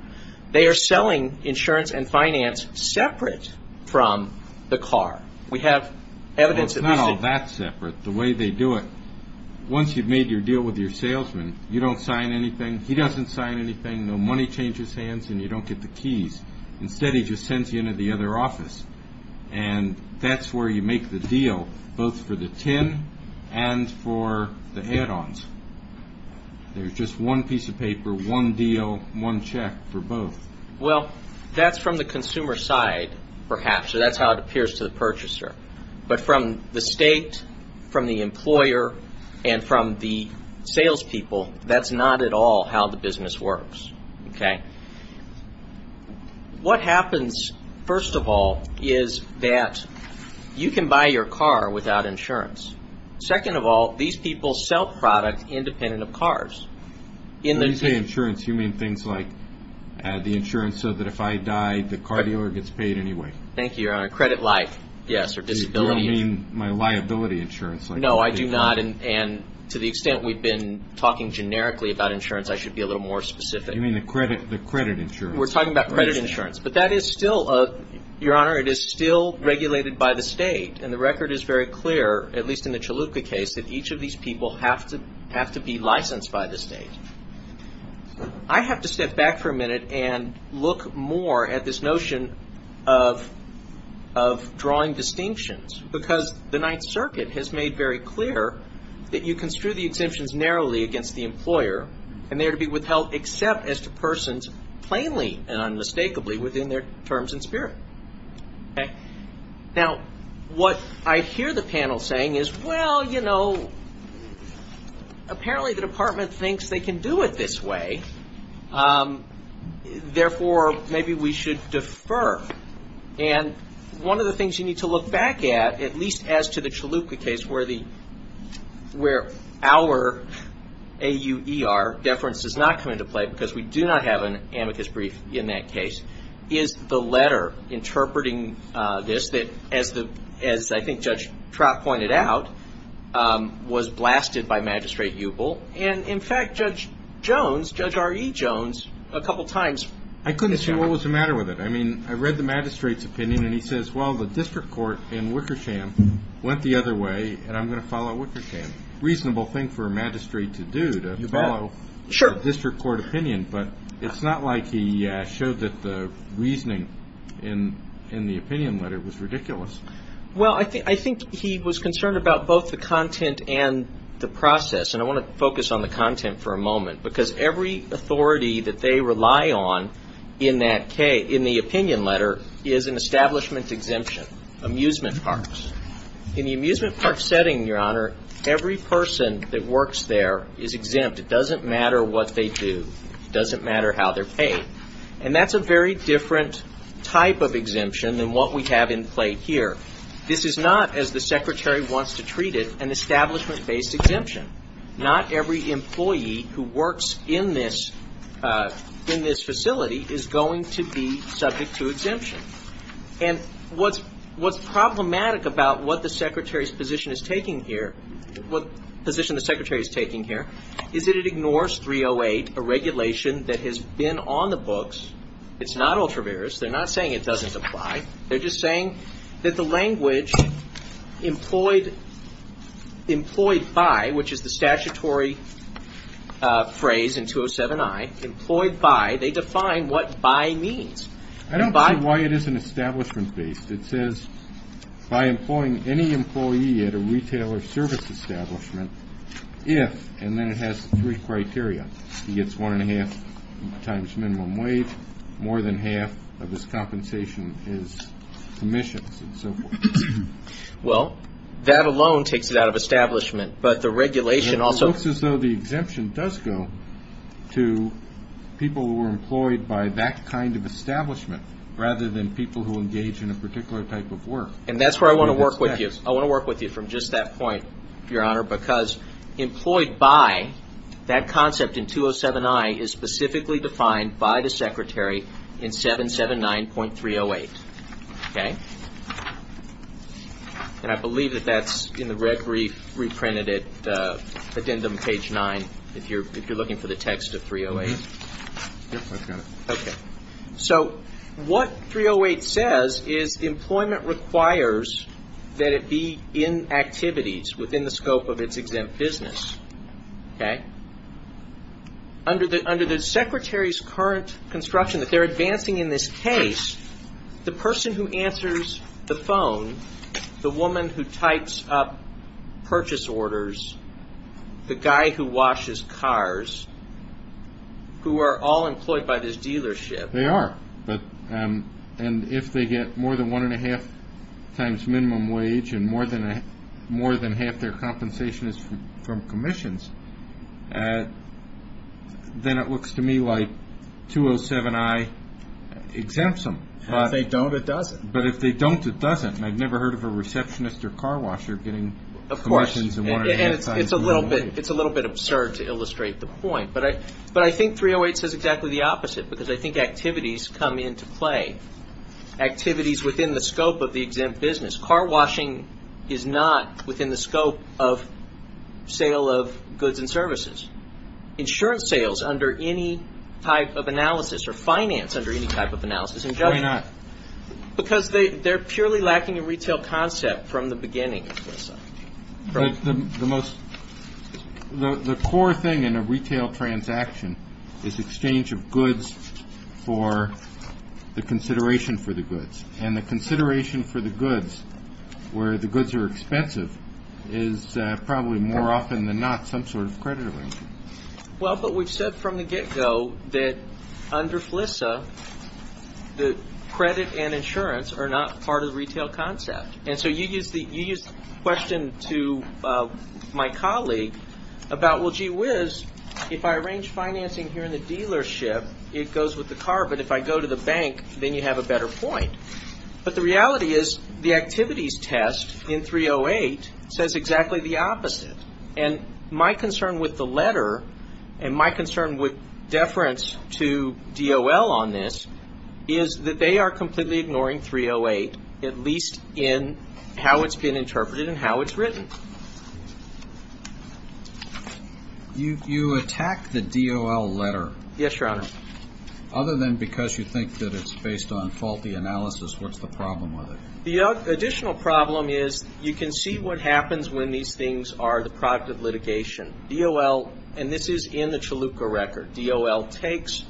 They are selling insurance and finance separate from the car. Well, it's not all that separate. The way they do it, once you've made your deal with your salesman, you don't sign anything, he doesn't sign anything, no money changes hands, and you don't get the keys. Instead, he just sends you into the other office. And that's where you make the deal, both for the TIN and for the head-ons. There's just one piece of paper, one deal, one check for both. Well, that's from the consumer side, perhaps. That's how it appears to the purchaser. But from the state, from the employer, and from the salespeople, that's not at all how the business works. What happens, first of all, is that you can buy your car without insurance. Second of all, these people sell product independent of cars. When you say insurance, you mean things like the insurance so that if I die, the car dealer gets paid anyway. Thank you, Your Honor. Credit life, yes, or disability. You don't mean my liability insurance. No, I do not. And to the extent we've been talking generically about insurance, I should be a little more specific. You mean the credit insurance. We're talking about credit insurance. But that is still, Your Honor, it is still regulated by the state. And the record is very clear, at least in the Chalupa case, that each of these people have to be licensed by the state. I have to step back for a minute and look more at this notion of drawing distinctions. Because the Ninth Circuit has made very clear that you construe the exemptions narrowly against the employer, and they are to be withheld except as to persons plainly and unmistakably within their terms and spirit. Now, what I hear the panel saying is, well, you know, apparently the department thinks they can do it this way. Therefore, maybe we should defer. And one of the things you need to look back at, at least as to the Chalupa case, where our AUER deference is not going to play, because we do not have an amicus brief in that case, is the letter interpreting this, that as I think Judge Trott pointed out, was blasted by magistrate Buble. And in fact, Judge Jones, Judge R.E. Jones, a couple of times- I couldn't see what was the matter with it. I mean, I read the magistrate's opinion, and he says, well, the district court in Wickersham went the other way, and I'm going to follow Wickersham. Reasonable thing for a magistrate to do, to follow a district court opinion. But it's not like he showed that the reasoning in the opinion letter was ridiculous. Well, I think he was concerned about both the content and the process. And I want to focus on the content for a moment, because every authority that they rely on in the opinion letter is an establishment exemption, amusement parks. In the amusement park setting, Your Honor, every person that works there is exempt. It doesn't matter what they do. It doesn't matter how they're paid. And that's a very different type of exemption than what we have in play here. This is not, as the Secretary wants to treat it, an establishment-based exemption. Not every employee who works in this facility is going to be subject to exemption. And what's problematic about what the Secretary's position is taking here, what position the Secretary is taking here, is that it ignores 308, a regulation that has been on the books. It's not ultra-various. They're not saying it doesn't apply. They're just saying that the language employed by, which is the statutory phrase in 207-I, employed by, they define what by means. I don't see why it isn't establishment-based. It says by employing any employee at a retail or service establishment if, and then it has three criteria, he gets one and a half times minimum wage, more than half of his compensation is commissions and so forth. Well, that alone takes it out of establishment, but the regulation also- It looks as though the exemption does go to people who are employed by that kind of establishment rather than people who engage in a particular type of work. And that's where I want to work with you. I want to work with you from just that point, Your Honor, because employed by, that concept in 207-I, is specifically defined by the secretary in 779.308. OK? And I believe that that's in the red brief reprinted at the end of page nine if you're looking for the text of 308. OK. So, what 308 says is employment requires that it be in activities within the scope of its exempt business. OK? Under the secretary's current construction, that they're advancing in this case, the person who answers the phone, the woman who types up purchase orders, the guy who washes cars, who are all employed by this dealership- They are. And if they get more than one and a half times minimum wage and more than half their compensation is from commissions, then it looks to me like 207-I exempts them. If they don't, it doesn't. But if they don't, it doesn't. And I've never heard of a receptionist or car washer getting questions in one of these cases. And it's a little bit absurd to illustrate the point. But I think 308 says exactly the opposite, because I think activities come into play, activities within the scope of the exempt business. Car washing is not within the scope of sale of goods and services. Insurance sales under any type of analysis or finance under any type of analysis- Why not? Because they're purely lacking a retail concept from the beginning. The most- The core thing in a retail transaction is exchange of goods for the consideration for the goods. And the consideration for the goods, where the goods are expensive, is probably more often than not some sort of creditor. Well, but we've said from the get-go that under FLISA, the credit and insurance are not part of the retail concept. And so you used the question to my colleague about, well, gee whiz, if I arrange financing here in the dealership, it goes with the car. But if I go to the bank, then you have a better point. But the reality is the activities test in 308 says exactly the opposite. And my concern with the letter, and my concern with deference to DOL on this, is that they are completely ignoring 308, at least in how it's been interpreted and how it's written. You attack the DOL letter. Yes, Your Honor. Other than because you think that it's based on faulty analysis, what's the problem with it? The additional problem is you can see what happens when these things are the product of litigation. DOL, and this is in the Chalupa record, DOL takes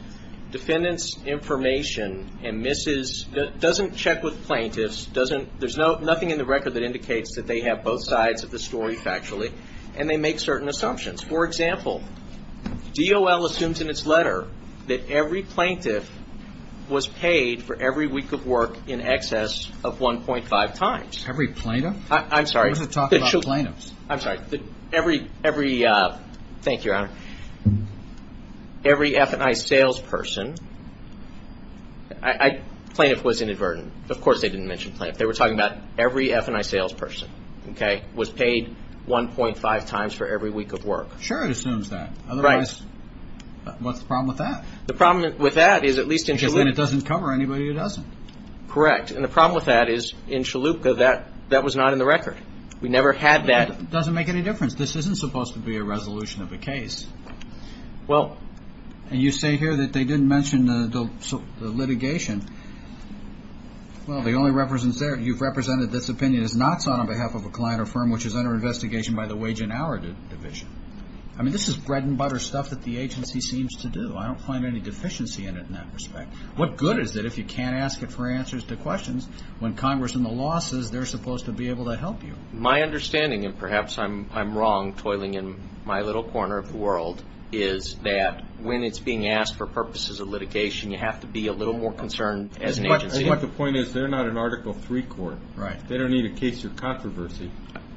defendant's information and misses, doesn't check with plaintiffs, there's nothing in the record that indicates that they have both sides of the story, factually, and they make certain assumptions. For example, DOL assumes in its letter that every plaintiff was paid for every week of work in excess of 1.5 times. Every plaintiff? I'm sorry. I wasn't talking about plaintiffs. I'm sorry. Every, thank you, Your Honor, every F&I salesperson, plaintiff was inadvertent. Of course they didn't mention plaintiff. They were talking about every F&I salesperson, okay, was paid 1.5 times for every week of work. Sure, it assumes that. Right. Otherwise, what's the problem with that? The problem with that is at least in Chalupa... Because then it doesn't cover anybody who doesn't. Correct, and the problem with that is in Chalupa, that was not in the record. We never had that... It doesn't make any difference. This isn't supposed to be a resolution of a case. Well... And you say here that they didn't mention the litigation. Well, the only representative... You've represented this opinion as not on behalf of a client or firm which is under investigation by the Wage and Hour Division. I mean, this is bread-and-butter stuff that the agency seems to do. I don't find any deficiency in it in that respect. What good is it if you can't ask it for answers to questions when Congress and the law says they're supposed to be able to help you? My understanding, and perhaps I'm wrong, toiling in my little corner of the world, is that when it's being asked for purposes of litigation, you have to be a little more concerned as the agency... I think what the point is, they're not an Article III court. Right. They don't need a case of controversy.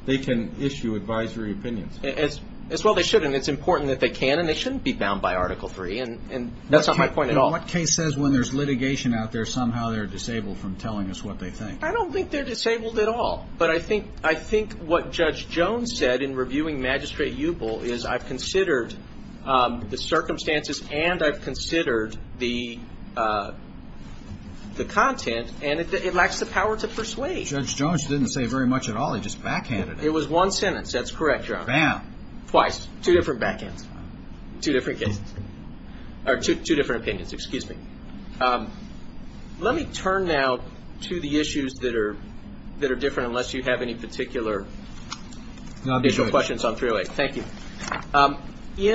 They can issue advisory opinions. As well they shouldn't. It's important that they can, and they shouldn't be bound by Article III, and that's not my point at all. What case says when there's litigation out there, somehow they're disabled from telling us what they think? I don't think they're disabled at all. But I think what Judge Jones said in reviewing Magistrate Hubel is I've considered the circumstances and I've considered the content, and it lacks the power to persuade. Judge Jones didn't say very much at all. He just backhanded it. It was one sentence. That's correct, Your Honor. Bam. Twice. Two different backhands. Two different cases. Or two different opinions. Excuse me. Let me turn now to the issues that are different, unless you have any particular questions on 308. Thank you.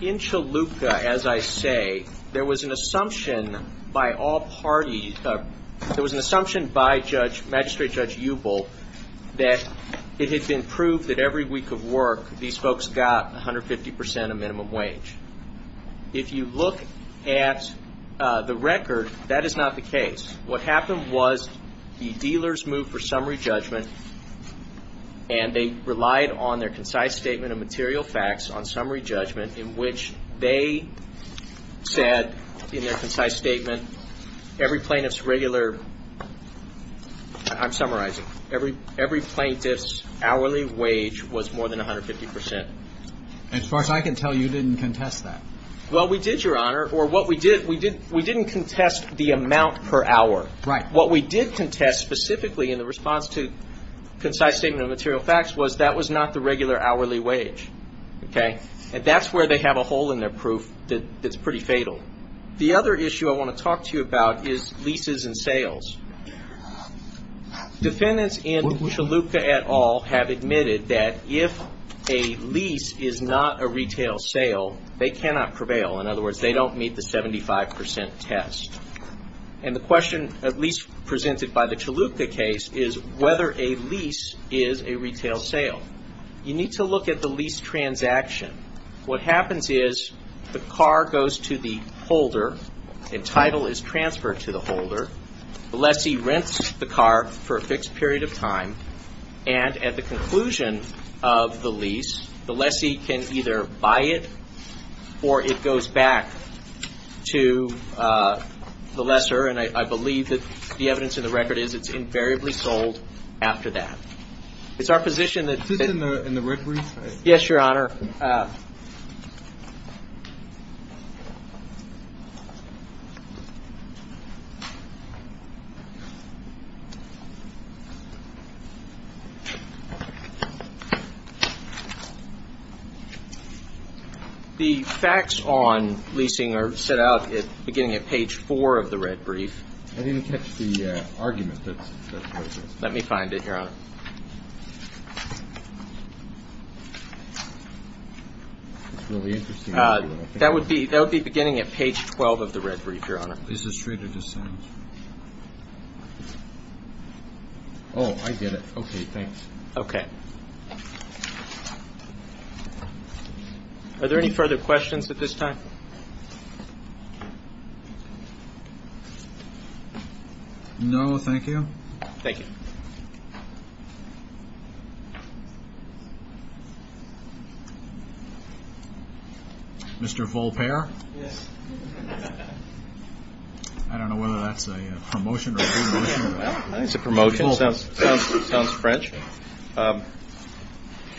In Chalupka, as I say, there was an assumption by all parties- there was an assumption by Magistrate Judge Hubel that it had been proved that every week of work these folks got 150% of minimum wage. If you look at the record, that is not the case. What happened was the dealers moved for summary judgment, and they relied on their concise statement of material facts on summary judgment, in which they said in their concise statement every plaintiff's regular- I'm summarizing. Every plaintiff's hourly wage was more than 150%. As far as I can tell, you didn't contest that. Well, we did, Your Honor. We didn't contest the amount per hour. Right. What we did contest, specifically, in the response to concise statement of material facts, was that was not the regular hourly wage. And that's where they have a hole in their proof that's pretty fatal. The other issue I want to talk to you about is leases and sales. Defendants in Chalupka et al. have admitted that if a lease is not a retail sale, they cannot prevail. In other words, they don't meet the 75% test. And the question, at least presented by the Chalupka case, is whether a lease is a retail sale. You need to look at the lease transaction. What happens is the car goes to the holder, and title is transferred to the holder, the lessee rents the car for a fixed period of time, and at the conclusion of the lease, the lessee can either buy it or it goes back to the lesser. And I believe that the evidence in the record is it's invariably sold after that. It's our position that- Is this in the record? Yes, Your Honor. The facts on leasing are set out beginning at page 4 of the red brief. I didn't catch the argument. Let me find it, Your Honor. That would be beginning at page 12 of the red brief, Your Honor. Oh, I get it. Okay, thanks. Okay. Are there any further questions at this time? No, thank you. Thank you. Mr. Volpere? Yes. I don't know whether that's a promotion or a re-promotion. I think it's a promotion. It sounds French.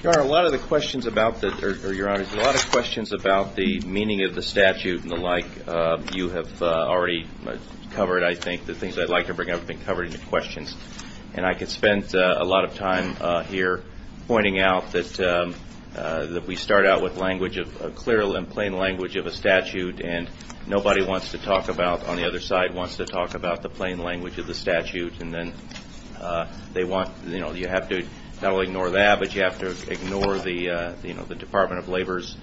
Your Honor, a lot of the questions about the- or, Your Honor, there's a lot of questions about the meaning of the statute and the like you have already covered, I think. The things I'd like to bring up have been covered in your questions, and I could spend a lot of time here pointing out that we start out with language, a clear and plain language of a statute, and nobody wants to talk about- on the other side wants to talk about the plain language of the statute, and then they want- you know, you have to not only ignore that, but you have to ignore the Department of Labor's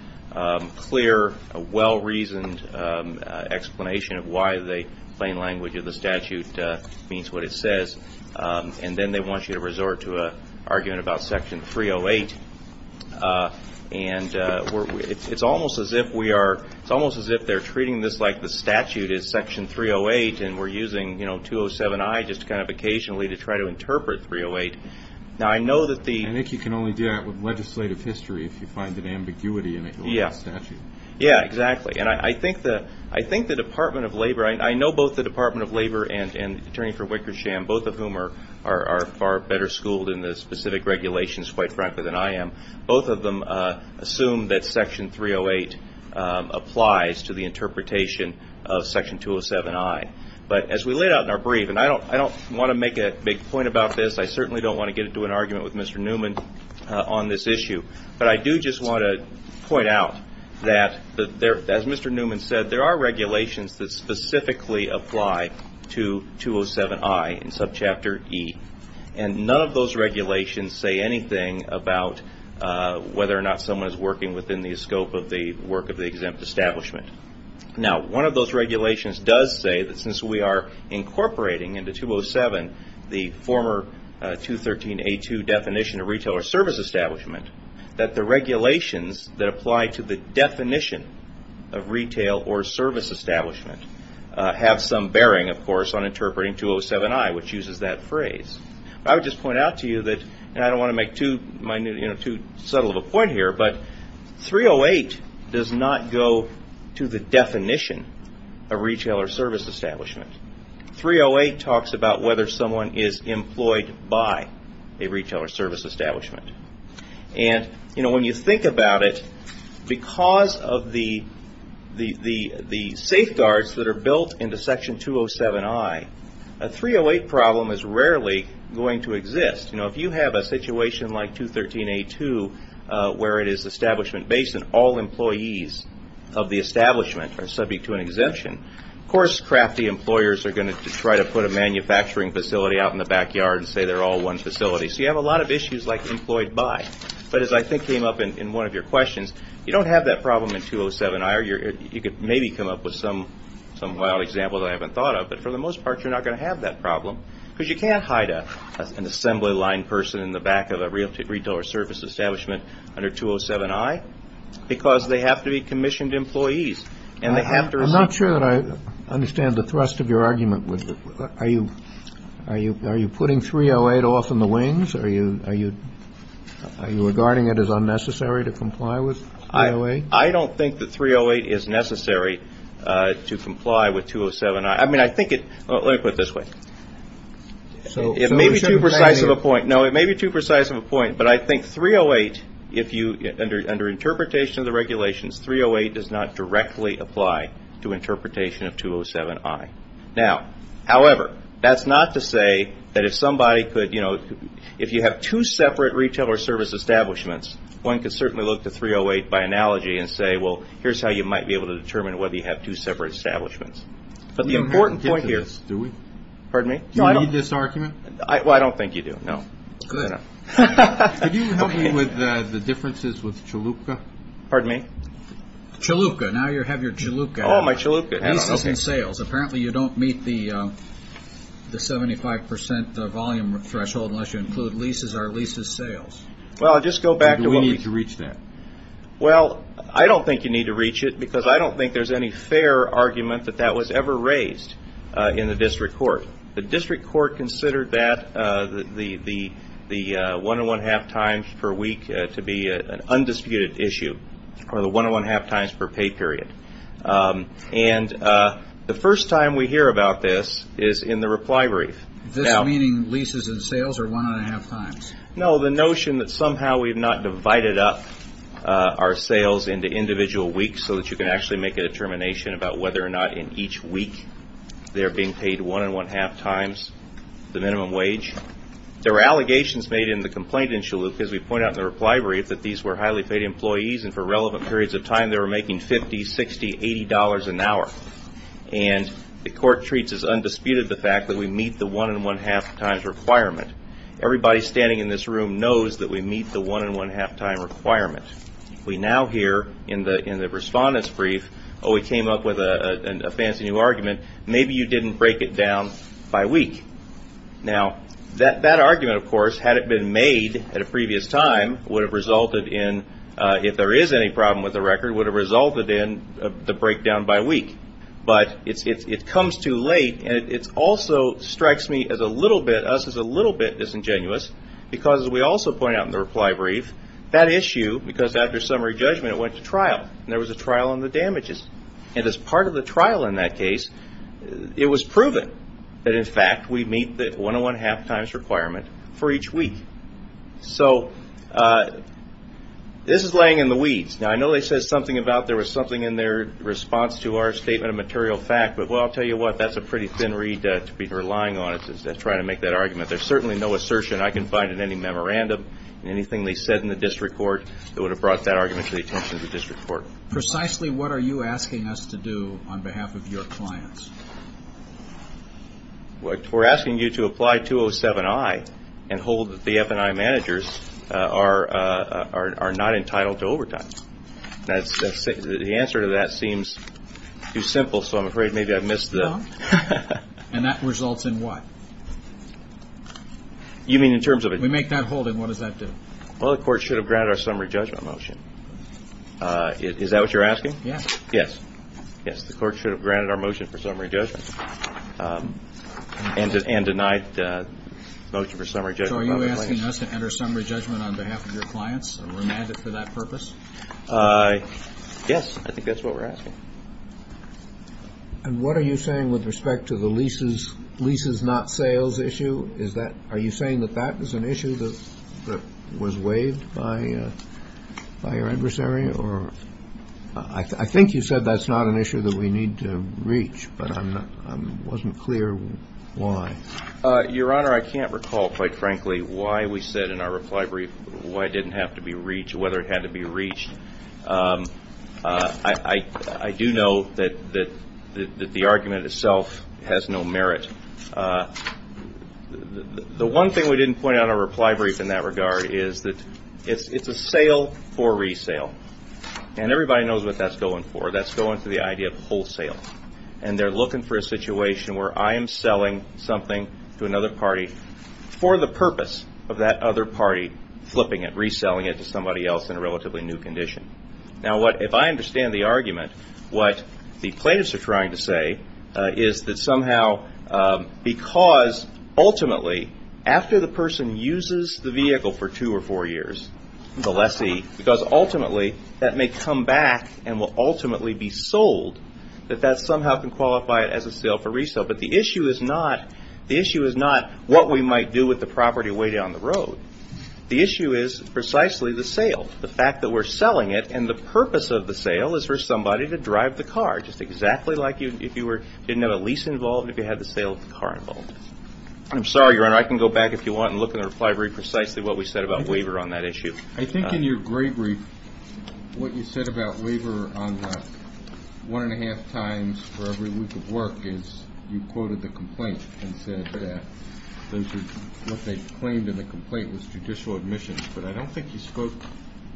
clear, well-reasoned explanation of why the plain language of the statute means what it says, and then they want you to resort to arguing about Section 308. And it's almost as if we are- it's almost as if they're treating this like the statute is Section 308, and we're using, you know, 207-I just kind of occasionally to try to interpret 308. Now, I know that the- I think you can only do that with legislative history if you find an ambiguity in it. Yeah. Yeah, exactly. And I think the Department of Labor- I know both the Department of Labor and the Attorney for Wickersham, both of whom are far better schooled in the specific regulations, quite frankly, than I am. Both of them assume that Section 308 applies to the interpretation of Section 207-I. But as we laid out in our brief, and I don't want to make a big point about this. I certainly don't want to get into an argument with Mr. Newman on this issue. But I do just want to point out that, as Mr. Newman said, there are regulations that specifically apply to 207-I in subchapter E, and none of those regulations say anything about whether or not someone is working within the scope of the work of the exempt establishment. Now, one of those regulations does say that since we are incorporating into 207 the former 213-A2 definition of retail or service establishment, that the regulations that apply to the definition of retail or service establishment have some bearing, of course, on interpreting 207-I, which uses that phrase. But I would just point out to you that, and I don't want to make too subtle of a point here, but 308 does not go to the definition of retail or service establishment. 308 talks about whether someone is employed by a retail or service establishment. And when you think about it, because of the safeguards that are built into section 207-I, a 308 problem is rarely going to exist. If you have a situation like 213-A2, where it is establishment-based and all employees of the establishment are subject to an exemption, of course, crafty employers are going to try to put a manufacturing facility out in the backyard and say they're all one facility. So you have a lot of issues like employed by. But as I think came up in one of your questions, you don't have that problem in 207-I. You could maybe come up with some wild example that I haven't thought of. But for the most part, you're not going to have that problem because you can't hide an assembly line person in the back of a retail or service establishment under 207-I because they have to be commissioned employees. I'm not sure that I understand the thrust of your argument. Are you putting 308 off in the wings? Are you regarding it as unnecessary to comply with 308? I don't think that 308 is necessary to comply with 207-I. I mean, I think it – let me put it this way. It may be too precise of a point. No, it may be too precise of a point, but I think 308, under interpretation of the regulations, 308 does not directly apply to interpretation of 207-I. Now, however, that's not to say that if somebody could – if you have two separate retail or service establishments, one could certainly look to 308 by analogy and say, well, here's how you might be able to determine whether you have two separate establishments. But the important point here – Do we? Pardon me? Do I need this argument? Well, I don't think you do, no. Good. Could you help me with the differences with Chalupka? Pardon me? Chalupka. Now you have your Chalupka. Oh, my Chalupka. Leases and sales. Apparently, you don't meet the 75 percent volume threshold unless you include leases or leases sales. Well, I'll just go back to what we – Do we need to reach that? Well, I don't think you need to reach it because I don't think there's any fair argument that that was ever raised in the district court. The district court considered that, the one-and-one-half times per week, to be an undisputed issue for the one-and-one-half times per pay period. And the first time we hear about this is in the reply brief. This meaning leases and sales or one-and-one-half times? No, the notion that somehow we've not divided up our sales into individual weeks so that you can actually make a determination about whether or not in each week they're being paid one-and-one-half times the minimum wage. There were allegations made in the complaint in Chalupka, as we point out in the reply brief, that these were highly paid employees and for relevant periods of time they were making $50, $60, $80 an hour. And the court treats as undisputed the fact that we meet the one-and-one-half times requirement. Everybody standing in this room knows that we meet the one-and-one-half time requirement. We now hear in the respondent's brief, oh, we came up with a fancy new argument. Maybe you didn't break it down by week. Now, that argument, of course, had it been made at a previous time, would have resulted in, if there is any problem with the record, would have resulted in the breakdown by week. But it comes too late, and it also strikes me as a little bit, us, as a little bit disingenuous because, as we also point out in the reply brief, that issue, because after summary judgment it went to trial, and there was a trial on the damages. And as part of the trial in that case, it was proven that, in fact, we meet the one-and-one-half times requirement for each week. So this is laying in the weeds. Now, I know they said something about there was something in their response to our statement of material fact, but, well, I'll tell you what, that's a pretty thin reed to be relying on to try to make that argument. There's certainly no assertion I can find in any memorandum, anything they said in the district court, that would have brought that argument to the attention of the district court. Precisely what are you asking us to do on behalf of your clients? We're asking you to apply 207-I and hold that the F&I managers are not entitled to overtimes. The answer to that seems too simple, so I'm afraid maybe I've missed the point. And that results in what? You mean in terms of a... We make that hold, and what does that do? Well, the court should have granted our summary judgment motion. Is that what you're asking? Yes. Yes. Yes, the court should have granted our motion for summary judgment and denied the motion for summary judgment. So are you asking us to enter summary judgment on behalf of your clients, or remand it for that purpose? Yes, I think that's what we're asking. And what are you saying with respect to the leases not sales issue? Are you saying that that was an issue that was weighed by your adversary? I think you said that's not an issue that we need to reach, but I wasn't clear why. Your Honor, I can't recall quite frankly why we said in our reply brief why it didn't have to be reached, whether it had to be reached. I do know that the argument itself has no merit. The one thing we didn't point out in our reply brief in that regard is that it's a sale for resale. And everybody knows what that's going for. That's going for the idea of wholesale. And they're looking for a situation where I am selling something to another party for the purpose of that other party flipping it, or reselling it to somebody else in a relatively new condition. Now, if I understand the argument, what the plaintiffs are trying to say is that somehow, because ultimately after the person uses the vehicle for two or four years, the lessee, because ultimately that may come back and will ultimately be sold, that that somehow can qualify it as a sale for resale. But the issue is not what we might do with the property way down the road. The issue is precisely the sale, the fact that we're selling it, and the purpose of the sale is for somebody to drive the car just exactly like if you didn't have a lease involved, if you had the sale of the car involved. I'm sorry, Your Honor, I can go back if you want and look in the reply brief precisely what we said about waiver on that issue. I think in your gray brief, what you said about waiver on the one-and-a-half times for every week of work is you quoted the complaint and said that what they claimed in the complaint was judicial admissions, but I don't think you spoke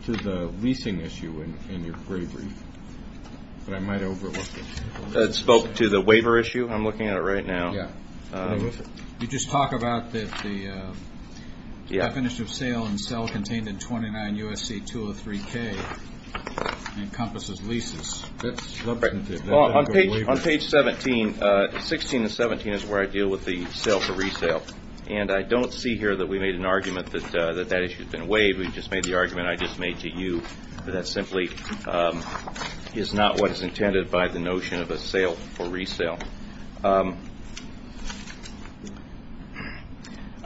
to the leasing issue in your gray brief, but I might have overlooked it. I spoke to the waiver issue. I'm looking at it right now. You just talk about that the definition of sale and sell contained in 29 U.S.C. 203k encompasses leases. On page 16 and 17 is where I deal with the sale for resale, and I don't see here that we made an argument that that issue has been waived. We just made the argument I just made to you that simply is not what is intended by the notion of a sale for resale.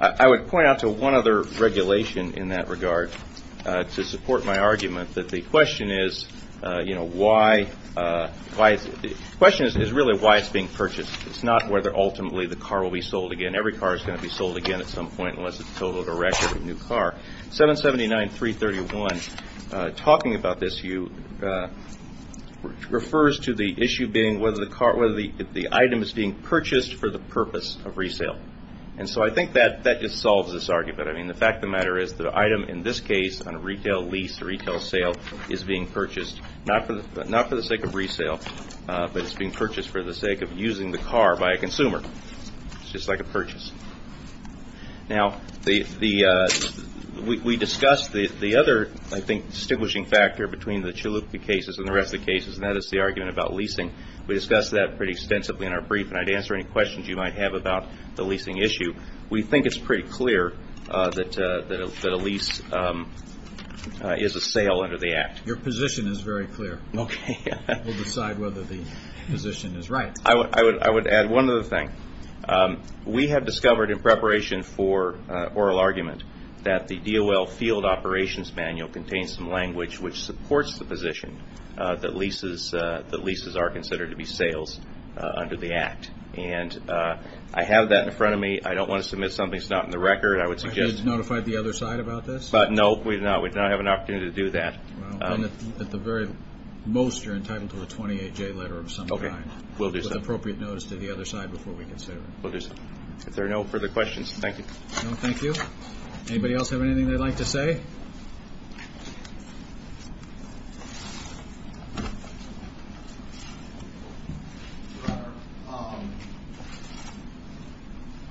I would point out to one other regulation in that regard to support my argument, that the question is really why it's being purchased. It's not whether ultimately the car will be sold again. Every car is going to be sold again at some point unless it's a total directive of a new car. 779.331 talking about this refers to the issue being whether the item is being purchased for the purpose of resale. I think that just solves this argument. The fact of the matter is the item in this case on a retail lease or retail sale is being purchased not for the sake of resale, but it's being purchased for the sake of using the car by a consumer. It's just like a purchase. Now, we discussed the other, I think, distinguishing factor between the Chalupnik cases and the rest of the cases, and that is the argument about leasing. We discussed that pretty extensively in our brief, and I'd answer any questions you might have about the leasing issue. We think it's pretty clear that a lease is a sale under the Act. Your position is very clear. Okay. We'll decide whether the position is right. I would add one other thing. We have discovered in preparation for oral argument that the DOL Field Operations Manual contains some language which supports the position that leases are considered to be sales under the Act, and I have that in front of me. I don't want to submit something that's not in the record. I would suggest – Have you notified the other side about this? No, we do not. We do not have an opportunity to do that. At the very most, you're entitled to a 28-day letter of some kind. Okay. We'll do so. We'll send an appropriate notice to the other side before we consider it. If there are no further questions, thank you. No, thank you. Anybody else have anything they'd like to say?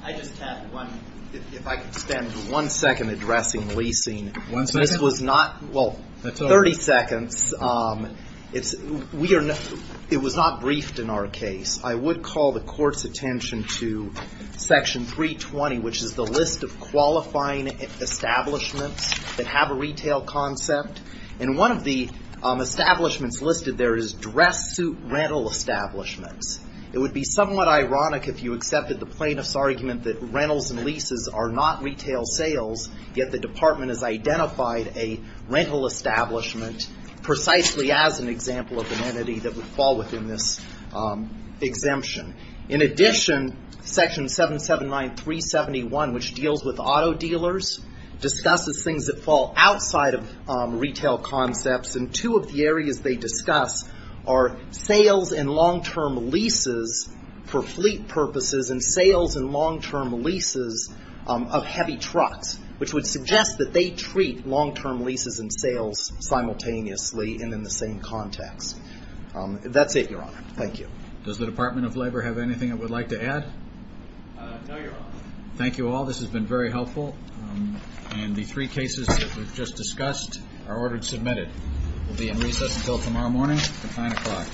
I just have one. If I could spend one second addressing leasing. One second? Well, 30 seconds. It was not briefed in our case. I would call the Court's attention to Section 320, which is the list of qualifying establishments that have a retail concept, and one of the establishments listed there is dress suit rental establishments. It would be somewhat ironic if you accepted the plaintiff's argument that rentals and leases are not retail sales, yet the Department has identified a rental establishment precisely as an example of an entity that would fall within this exemption. In addition, Section 779-371, which deals with auto dealers, discusses things that fall outside of retail concepts, and two of the areas they discuss are sales and long-term leases for fleet purposes and sales and long-term leases of heavy trucks, which would suggest that they treat long-term leases and sales simultaneously and in the same context. That's it, Your Honor. Thank you. Does the Department of Labor have anything it would like to add? No, Your Honor. Thank you all. This has been very helpful, and the three cases that we've just discussed are ordered submitted. We'll be in recess until tomorrow morning at 9 o'clock. Thank you.